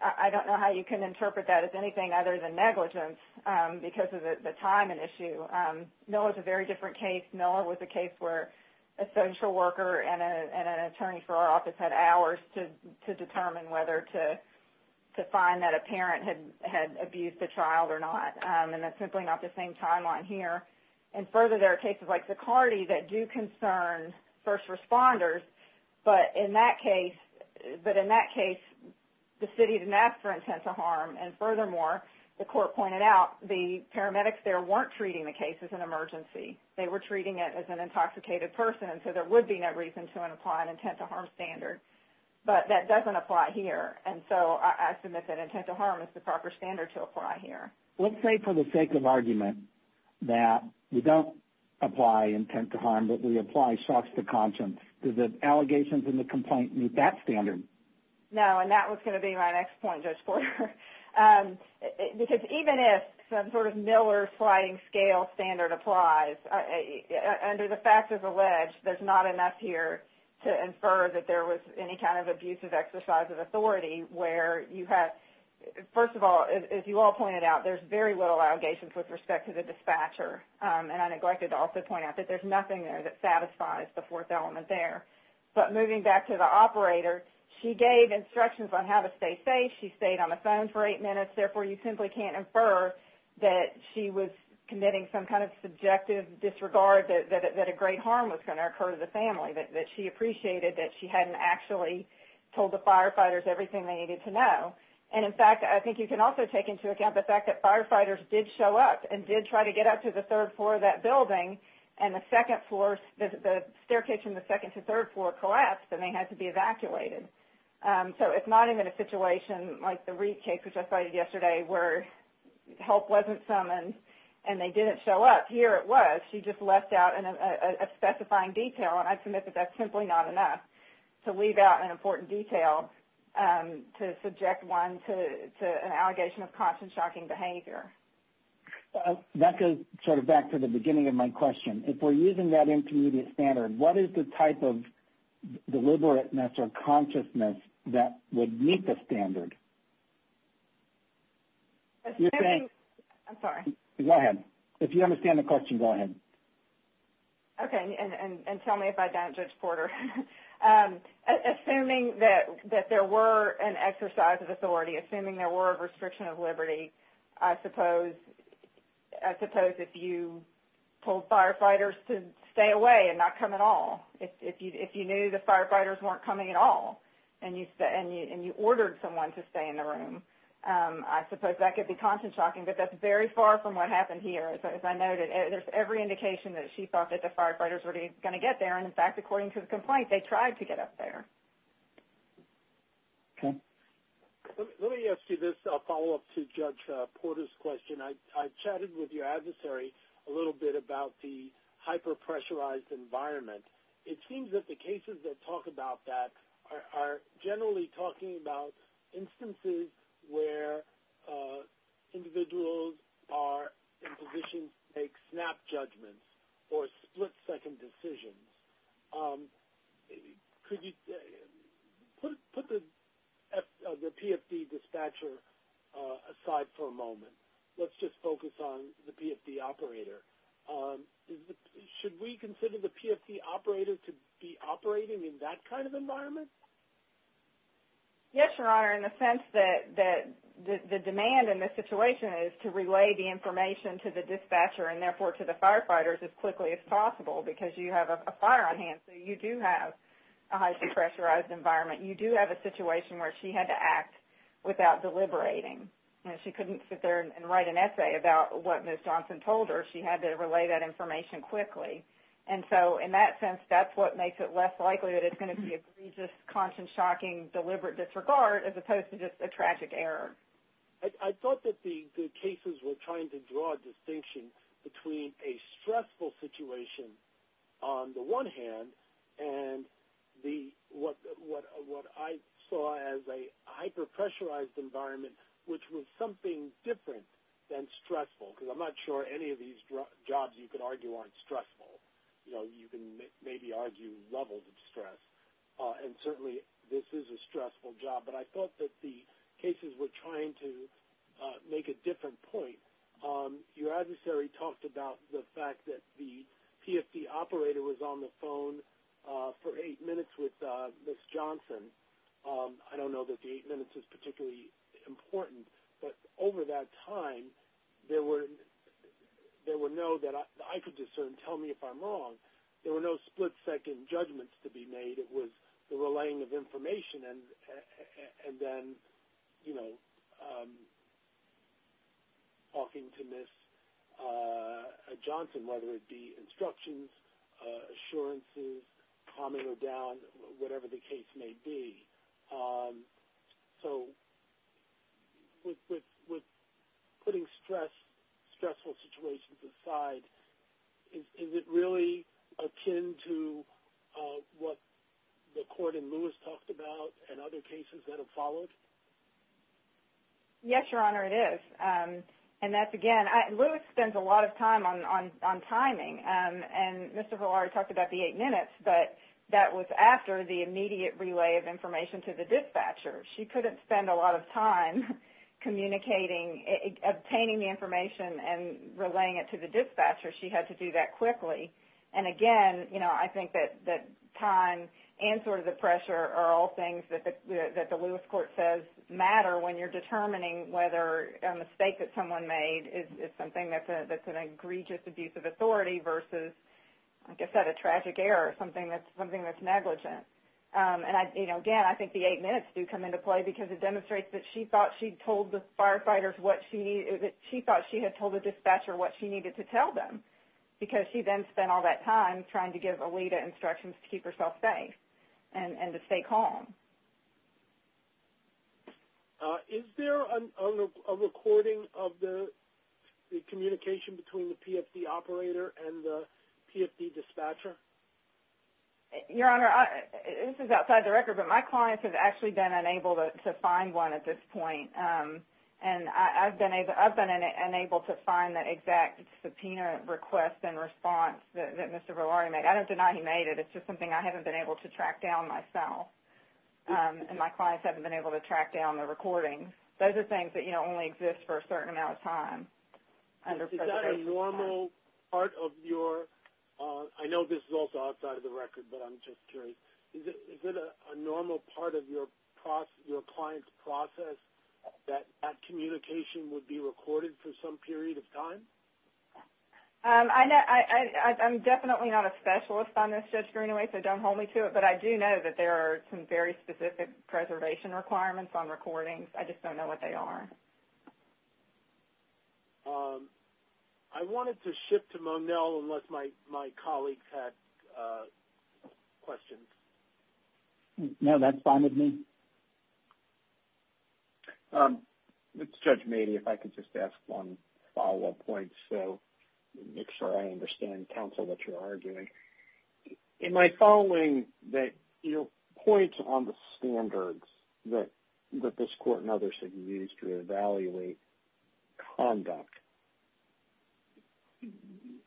I don't know how you can interpret that as anything other than negligence because of the timing issue. Noah's a very different case. Noah was a case where a social worker and an attorney for our office had hours to determine whether to find that a parent had abused the child or not. And that's simply not the same timeline here. And further, there are cases like Ducardie that do concern first responders. But in that case, the city didn't ask for intent to harm. And furthermore, the court pointed out the paramedics there weren't treating the case as an emergency. They were treating it as an intoxicated person. And so, there would be no reason to apply an intent to harm standard. But that doesn't apply here. And so, I submit that intent to harm is the proper standard to apply here. Let's say, for the sake of argument, that we don't apply intent to harm, but we apply shock to conscience. Do the allegations in the complaint meet that standard? No, and that was going to be my next point, Judge Porter. Because even if some sort of Miller flying scale standard applies, under the fact as alleged, there's not enough here to infer that there was any kind of abusive exercise of authority where you had, first of all, as you all pointed out, there's very little allegations with respect to the dispatcher. And I neglected to also point out that there's nothing there that satisfies the fourth element there. But moving back to the operator, she gave instructions on how to stay safe. She stayed on the phone for eight minutes. Therefore, you simply can't infer that she was committing some kind of subjective disregard that a great harm was going to occur to the family, that she appreciated that she hadn't actually told the firefighters everything they needed to know. And in fact, I think you can also take into account the fact that firefighters did show up and did try to get up to the third floor of that building and the staircase from the second to third floor collapsed and they had to be evacuated. So it's not even a situation like the Reid case, which I cited yesterday, where help wasn't summoned and they didn't show up. Here it was. She just left out a specifying detail. And I submit that that's simply not enough to leave out an important detail to subject one to an allegation of caution-shocking behavior. GONZALEZ-BROWN That goes sort of back to the beginning of my question. If we're using that intermediate standard, what is the type of deliberateness or consciousness that would meet the standard? MS. GONZALEZ-BROWN I'm sorry. MR. GONZALEZ-BROWN Go ahead. If you understand the question, go ahead. MS. GONZALEZ-BROWN Okay. And tell me if I don't, Judge Porter. Assuming that there were an exercise of authority, assuming there were a restriction of liberty, I suppose if you told firefighters to stay away and not come at all, if you knew the firefighters weren't coming at all and you ordered someone to stay in the room, I suppose that could be caution-shocking. But that's very far from what happened here, as I noted. There's every indication that she thought that the firefighters were going to get there. In fact, according to the complaint, they tried to get up there. GONZALEZ-BROWN Let me ask you this follow-up to Judge Porter's question. I chatted with your adversary a little bit about the hyper-pressurized environment. It seems that the cases that talk about that are generally talking about instances where individuals are in positions to make snap judgments or split-second decisions. Could you put the PFD dispatcher aside for a moment? Let's just focus on the PFD operator. Should we consider the PFD operator to be operating in that kind of environment? TAYLOR GILCHRIST Yes, Your Honor, in the sense that the demand in this situation is to relay the information to the dispatcher and therefore to the firefighters as quickly as possible, because you have a fire on hand, so you do have a hyper-pressurized environment. You do have a situation where she had to act without deliberating. She couldn't sit there and write an essay about what Ms. Johnson told her. She had to relay that information quickly. In that sense, that's what makes it less likely that it's going to be a conscious, shocking, deliberate disregard as opposed to just a tragic error. GONZALEZ-BROWN I thought that the cases were trying to draw a distinction between a stressful situation on the one hand and what I saw as a hyper-pressurized environment, which was something different than stressful, because I'm not sure any of these jobs you could argue aren't stressful. You can maybe argue levels of stress, and certainly this is a stressful job. But I thought that the cases were trying to make a different point. Your adversary talked about the fact that the PFD operator was on the phone for eight minutes with Ms. Johnson. I don't know that the eight minutes is particularly important, but over that time, there were no that I could discern, tell me if I'm wrong. There were no split-second judgments to be made. It was the relaying of information and then talking to Ms. Johnson, whether it be instructions, assurances, calming her down, whatever the case may be. So with putting stressful situations aside, does it really attend to what the court and Lewis talked about and other cases that have followed? Yes, Your Honor, it is. And that's, again, Lewis spends a lot of time on timing. And Mr. Villar talked about the eight minutes, but that was after the immediate relay of information to the dispatcher. She couldn't spend a lot of time communicating, obtaining the information and relaying it to the dispatcher. She had to do that quickly. And again, I think that time and sort of the pressure are all things that the Lewis court says matter when you're determining whether a mistake that someone made is something that's an egregious abuse of authority versus, like I said, a tragic error or something that's negligent. And again, I think the eight minutes do come into play because it demonstrates that she thought she had told the dispatcher what she needed to tell them, because she then spent all that time trying to give Alita instructions to keep herself safe and to stay calm. Is there a recording of the communication between the PFD operator and the PFD dispatcher? Your Honor, this is outside the record, but my client has actually been unable to find one at this point. And I've been able to find that exact subpoena request and response that Mr. Valaria made. I don't deny he made it. It's just something I haven't been able to track down myself. And my clients haven't been able to track down the recording. Those are things that only exist for a certain amount of time. Is that a normal part of your... I know this is also outside of the record, but I'm just curious. Is it a normal part of your client's process that that communication would be recorded for some period of time? I'm definitely not a specialist on this, Judge Greenaway, so don't hold me to it. But I do know that there are some very specific preservation requirements on recordings. I just don't know what they are. I wanted to shift to Monel unless my colleagues had questions. No, that's fine with me. It's Judge Meade, if I could just ask one follow-up question. So make sure I understand, counsel, what you're arguing. In my following, the points on the standards that this court and others have used to evaluate conduct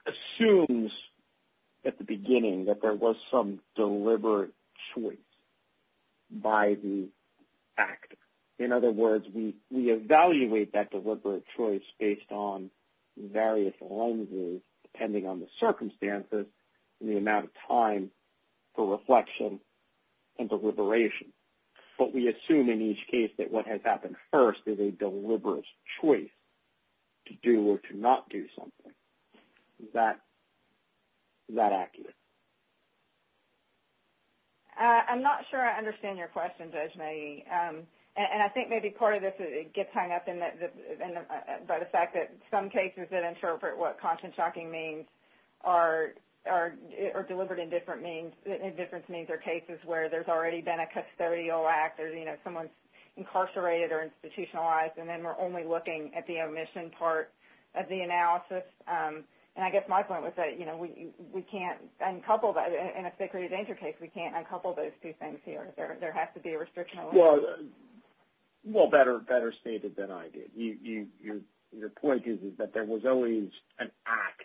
assumes at the beginning that there was some deliberate choice by the fact. In other words, we evaluate that deliberate choice based on various lenses, depending on the circumstances and the amount of time for reflection and deliberation. But we assume in each case that what has happened first is a deliberate choice to do or to not do something. Is that accurate? I'm not sure I understand your question, Judge Meade. And I think maybe part of this gets hung up in the fact that some cases that interpret what caution shocking means are deliberate in different means. In different means, there are cases where there's already been a custodial act or someone's incarcerated or institutionalized, and then we're only looking at the omission part of the analysis. And I guess my point was that we can't uncouple that. In a security danger case, we can't uncouple those two things here. There has to be a restriction. Well, better stated than I did. The point is that there was always an act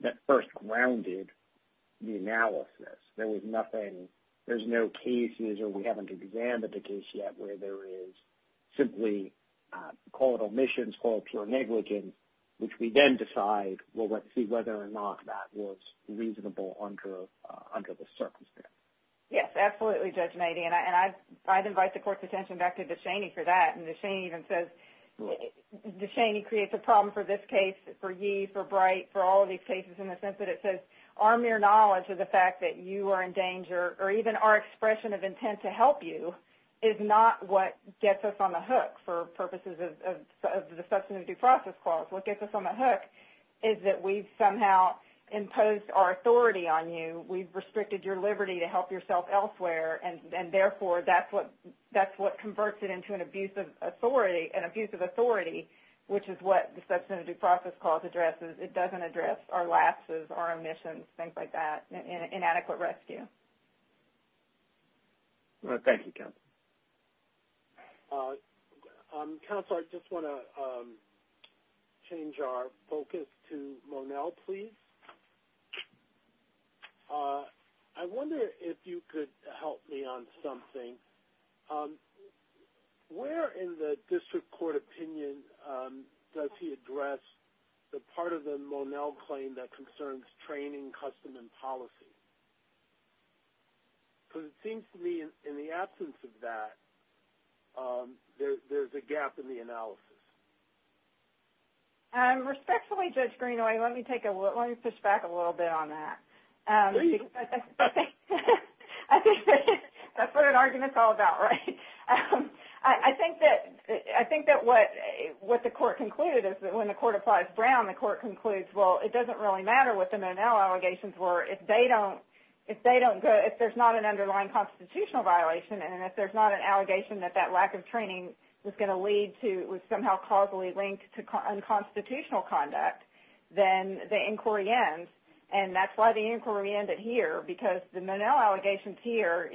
that first grounded the analysis. There was nothing, there's no cases or we haven't examined the case yet where there is simply called omissions, called pure negligence, which we then decide, well, let's see whether or not that was reasonable under the circumstances. Yes, absolutely, Judge Meade. And I'd invite the court's attention back to DeShaney for that. And DeShaney even says, DeShaney creates a problem for this case, for Yee, for Bright, for all of these cases in the sense that it says our mere knowledge of the fact that you are in danger or even our expression of intent to help you is not what gets us on the hook for purposes of the substantive due process clause. What gets us on the hook is that we've somehow imposed our authority on you. We've restricted your liberty to help yourself elsewhere and therefore that's what converts it into an abuse of authority, an abuse of authority, which is what the substantive due process clause addresses. It doesn't address our lapses, our omissions, things like that, inadequate rescue. Thank you, counsel. Counsel, I just want to change our focus to Monel, please. I wonder if you could help me on something. Where in the district court opinion does he address the part of the Monel claim that concerns training, custom, and policy? Because it seems to me in the absence of that, there's a gap in the analysis. Respectfully, Judge Greenaway, let me take a look. Let me switch back a little bit on that. That's what an argument's all about, right? I think that what the court concluded is that when the court applies Brown, the court concludes, well, it doesn't really matter what the Monel allegations were. If there's not an underlying constitutional violation and if there's not an allegation that that lack of training was going to lead to, was somehow causally linked to unconstitutional conduct, then the inquiry ends. And that's why the inquiry ended here because the Monel allegations here,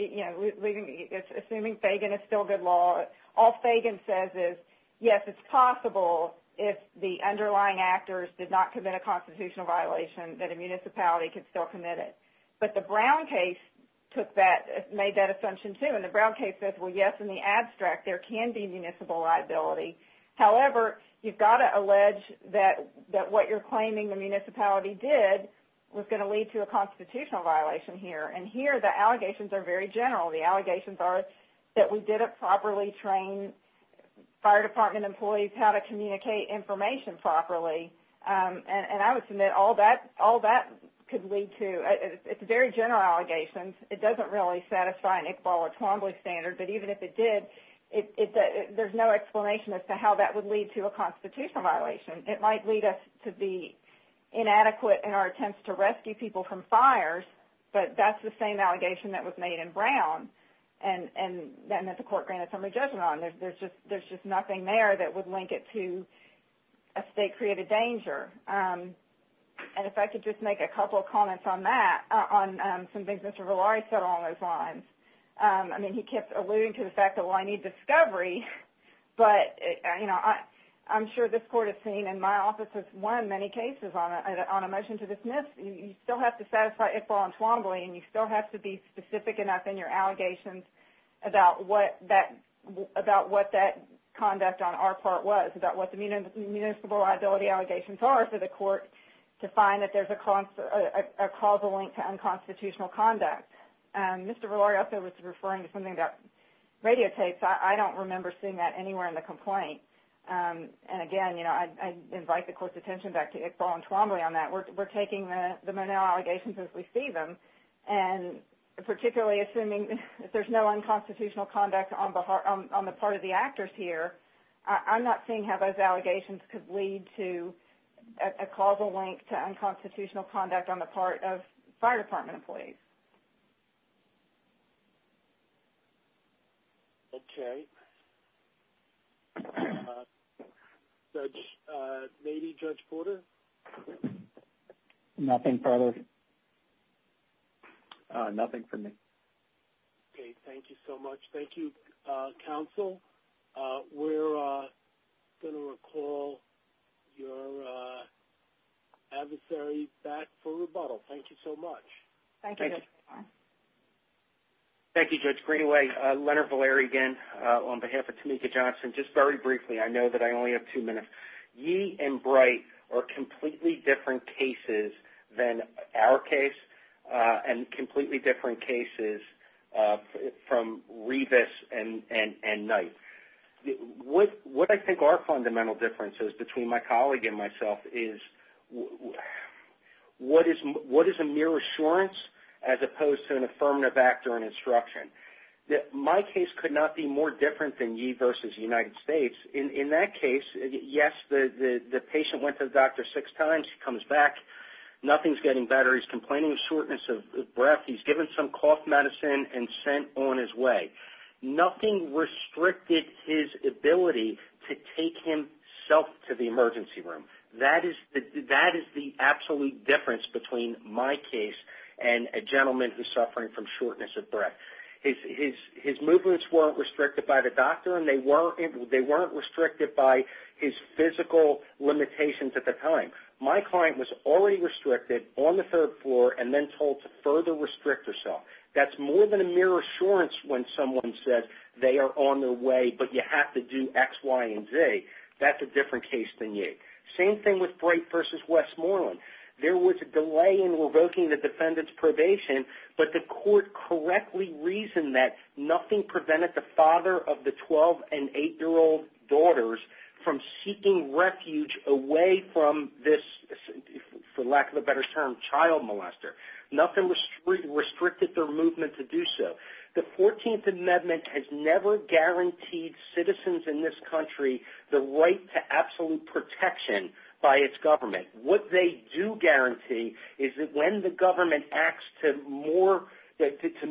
assuming Fagan is still good law, all Fagan says is, yes, it's possible if the underlying actors did not commit a constitutional violation that a municipality could still commit it. But the Brown case took that, made that assumption too. And the Brown case says, well, yes, in the abstract, there can be municipal liability. However, you've got to allege that what you're claiming the municipality did was going to lead to a constitutional violation here. And here, the allegations are very general. The allegations are that we didn't properly train fire department employees how to communicate information properly. And I would submit all that could lead to, it's a very general allegation. It doesn't really satisfy an Iqbal or Twombly standard, but even if it did, there's no explanation as to how that would lead to a constitutional violation. It might lead us to be inadequate in our attempts to rescue people from fires, but that's the same allegation that was made in Brown. And that meant the court granted some adjudicent on it. There's just nothing there that would link it to a state-created danger. And if I could just make a couple of comments on that, on some things Mr. Valari said along those lines. I mean, he kept alluding to the fact that, well, I need discovery, but I'm sure this court has seen and my office has won many cases on a motion to dismiss. You still have to satisfy Iqbal and Twombly and you still have to be specific enough in your allegations about what that conduct on our part was, about what the municipal liability allegations are for the court to find that there's a causal link to unconstitutional conduct. Mr. Valari also was referring to something about radio tapes. I don't remember seeing that anywhere in the complaint. And again, you know, I invite the court's attention back to Iqbal and Twombly on that. We're taking the Monell allegations as we see them and particularly assuming if there's no unconstitutional conduct on the part of the actors here, I'm not seeing how those allegations could lead to a causal link to unconstitutional conduct on the part of fire department employees. Okay, Judge, maybe Judge Porter. Nothing further. Nothing for me. Okay, thank you so much. Thank you, counsel. We're going to recall your adversary back for rebuttal. Thank you so much. Thank you. Thank you, Judge Greenway. Leonard Valari again on behalf of Tameka Johnson. Just very briefly, I know that I only have two minutes. Yee and Bright are completely different cases than our case and completely different cases from Revis and Knight. What I think are fundamental differences between my colleague and myself is what is a mere assurance as opposed to an affirmative actor and instruction? My case could not be more different than Yee versus United States. In that case, yes, the patient went to the doctor six times. He comes back. Nothing's getting better. He's complaining of shortness of breath. He's given some cough medicine and sent on his way. Nothing restricted his ability to take himself to the emergency room. That is the absolute difference between my case and a gentleman who's suffering from shortness of breath. His movements weren't restricted by the doctor and they weren't restricted by his physical limitations at the time. My client was already restricted on the third floor and then told to further restrict herself. That's more than a mere assurance when someone says they are on their way but you have to do X, Y, and Z. That's a different case than Yee. Same thing with Bright versus Westmoreland. There was a delay in revoking the defendant's probation but the court correctly reasoned that nothing prevented the father of the 12 and 8-year-old daughters from seeking refuge away from this, for lack of a better term, child molester. Nothing restricted their movement to do so. The 14th Amendment has never guaranteed citizens in this country the right to absolute protection by its government. What they do guarantee is that when the government acts to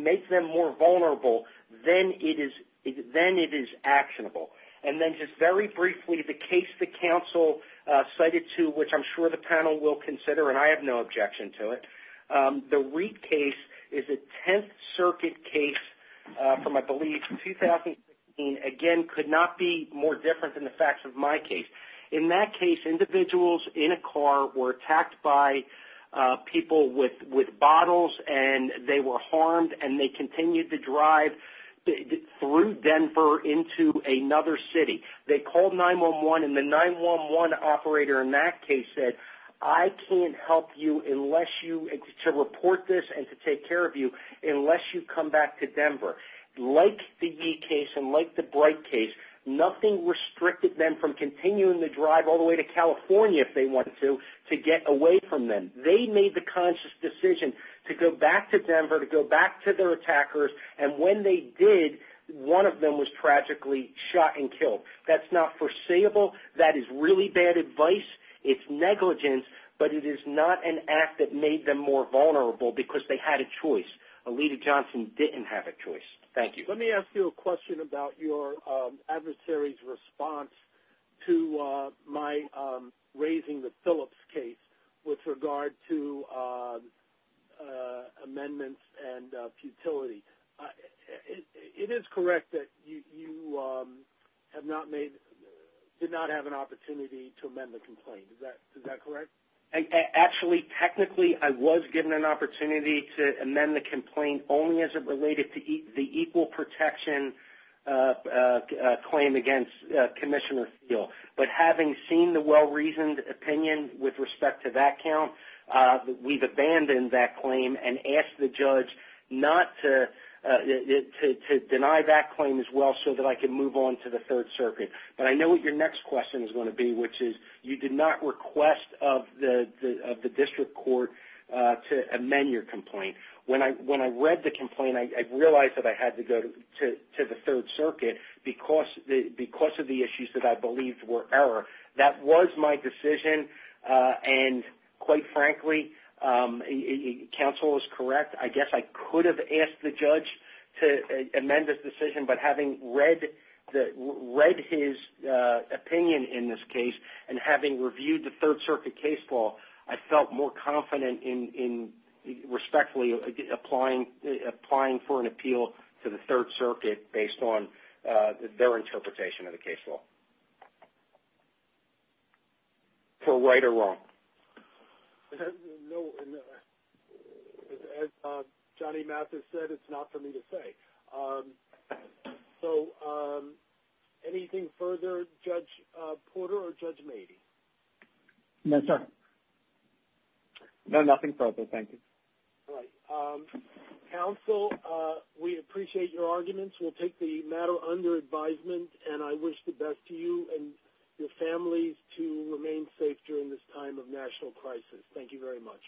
make them more vulnerable, then it is actionable. And then just very briefly, the case the counsel cited to, which I'm sure the panel will consider and I have no objection to it, the Wreak case is a 10th Circuit case from, I believe, 2016. Again, could not be more different than the facts of my case. In that case, individuals in a car were attacked by people with bottles and they were harmed and they continued to drive through Denver into another city. They called 911 and the 911 operator in that case said, I can't help you to report this and to take care of you unless you come back to Denver. Like the Yee case and like the Bright case, nothing restricted them from continuing to drive all the way to California, if they wanted to, to get away from them. They made the conscious decision to go back to Denver, to go back to their attackers and when they did, one of them was tragically shot and killed. That's not foreseeable. That is really bad advice. It's negligence, but it is not an act that made them more vulnerable because they had a choice. Alita Johnson didn't have a choice. Thank you. Let me ask you a question about your adversary's response to my raising the Phillips case with regard to amendments and futility. It is correct that you have not made, did not have an opportunity to amend the complaint. Is that correct? Actually, technically, I was given an opportunity to amend the complaint only as it related to the equal protection claim against Commissioner Thiele, but having seen the well-reasoned opinion with respect to that count, we've abandoned that claim and asked the judge to deny that claim as well so that I can move on to the Third Circuit, but I know what your next question is going to be, which is you did not request of the district court to amend your complaint. When I read the complaint, I realized that I had to go to the Third Circuit because of the issues that I believed were error. That was my decision, and quite frankly, counsel is correct. I guess I could have asked the judge to amend this decision, but having read his opinion in this case and having reviewed the Third Circuit case law, I felt more confident in respectfully applying for an appeal to the Third Circuit based on their interpretation of the case law. For right or wrong? As Johnny Mathis said, it's not for me to say. So anything further, Judge Porter or Judge Mady? No, sir. No, nothing further. Thank you. Counsel, we appreciate your arguments. We'll take the matter under advisement, and I wish the best to you and your families to remain safe during this time of national crisis. Thank you very much.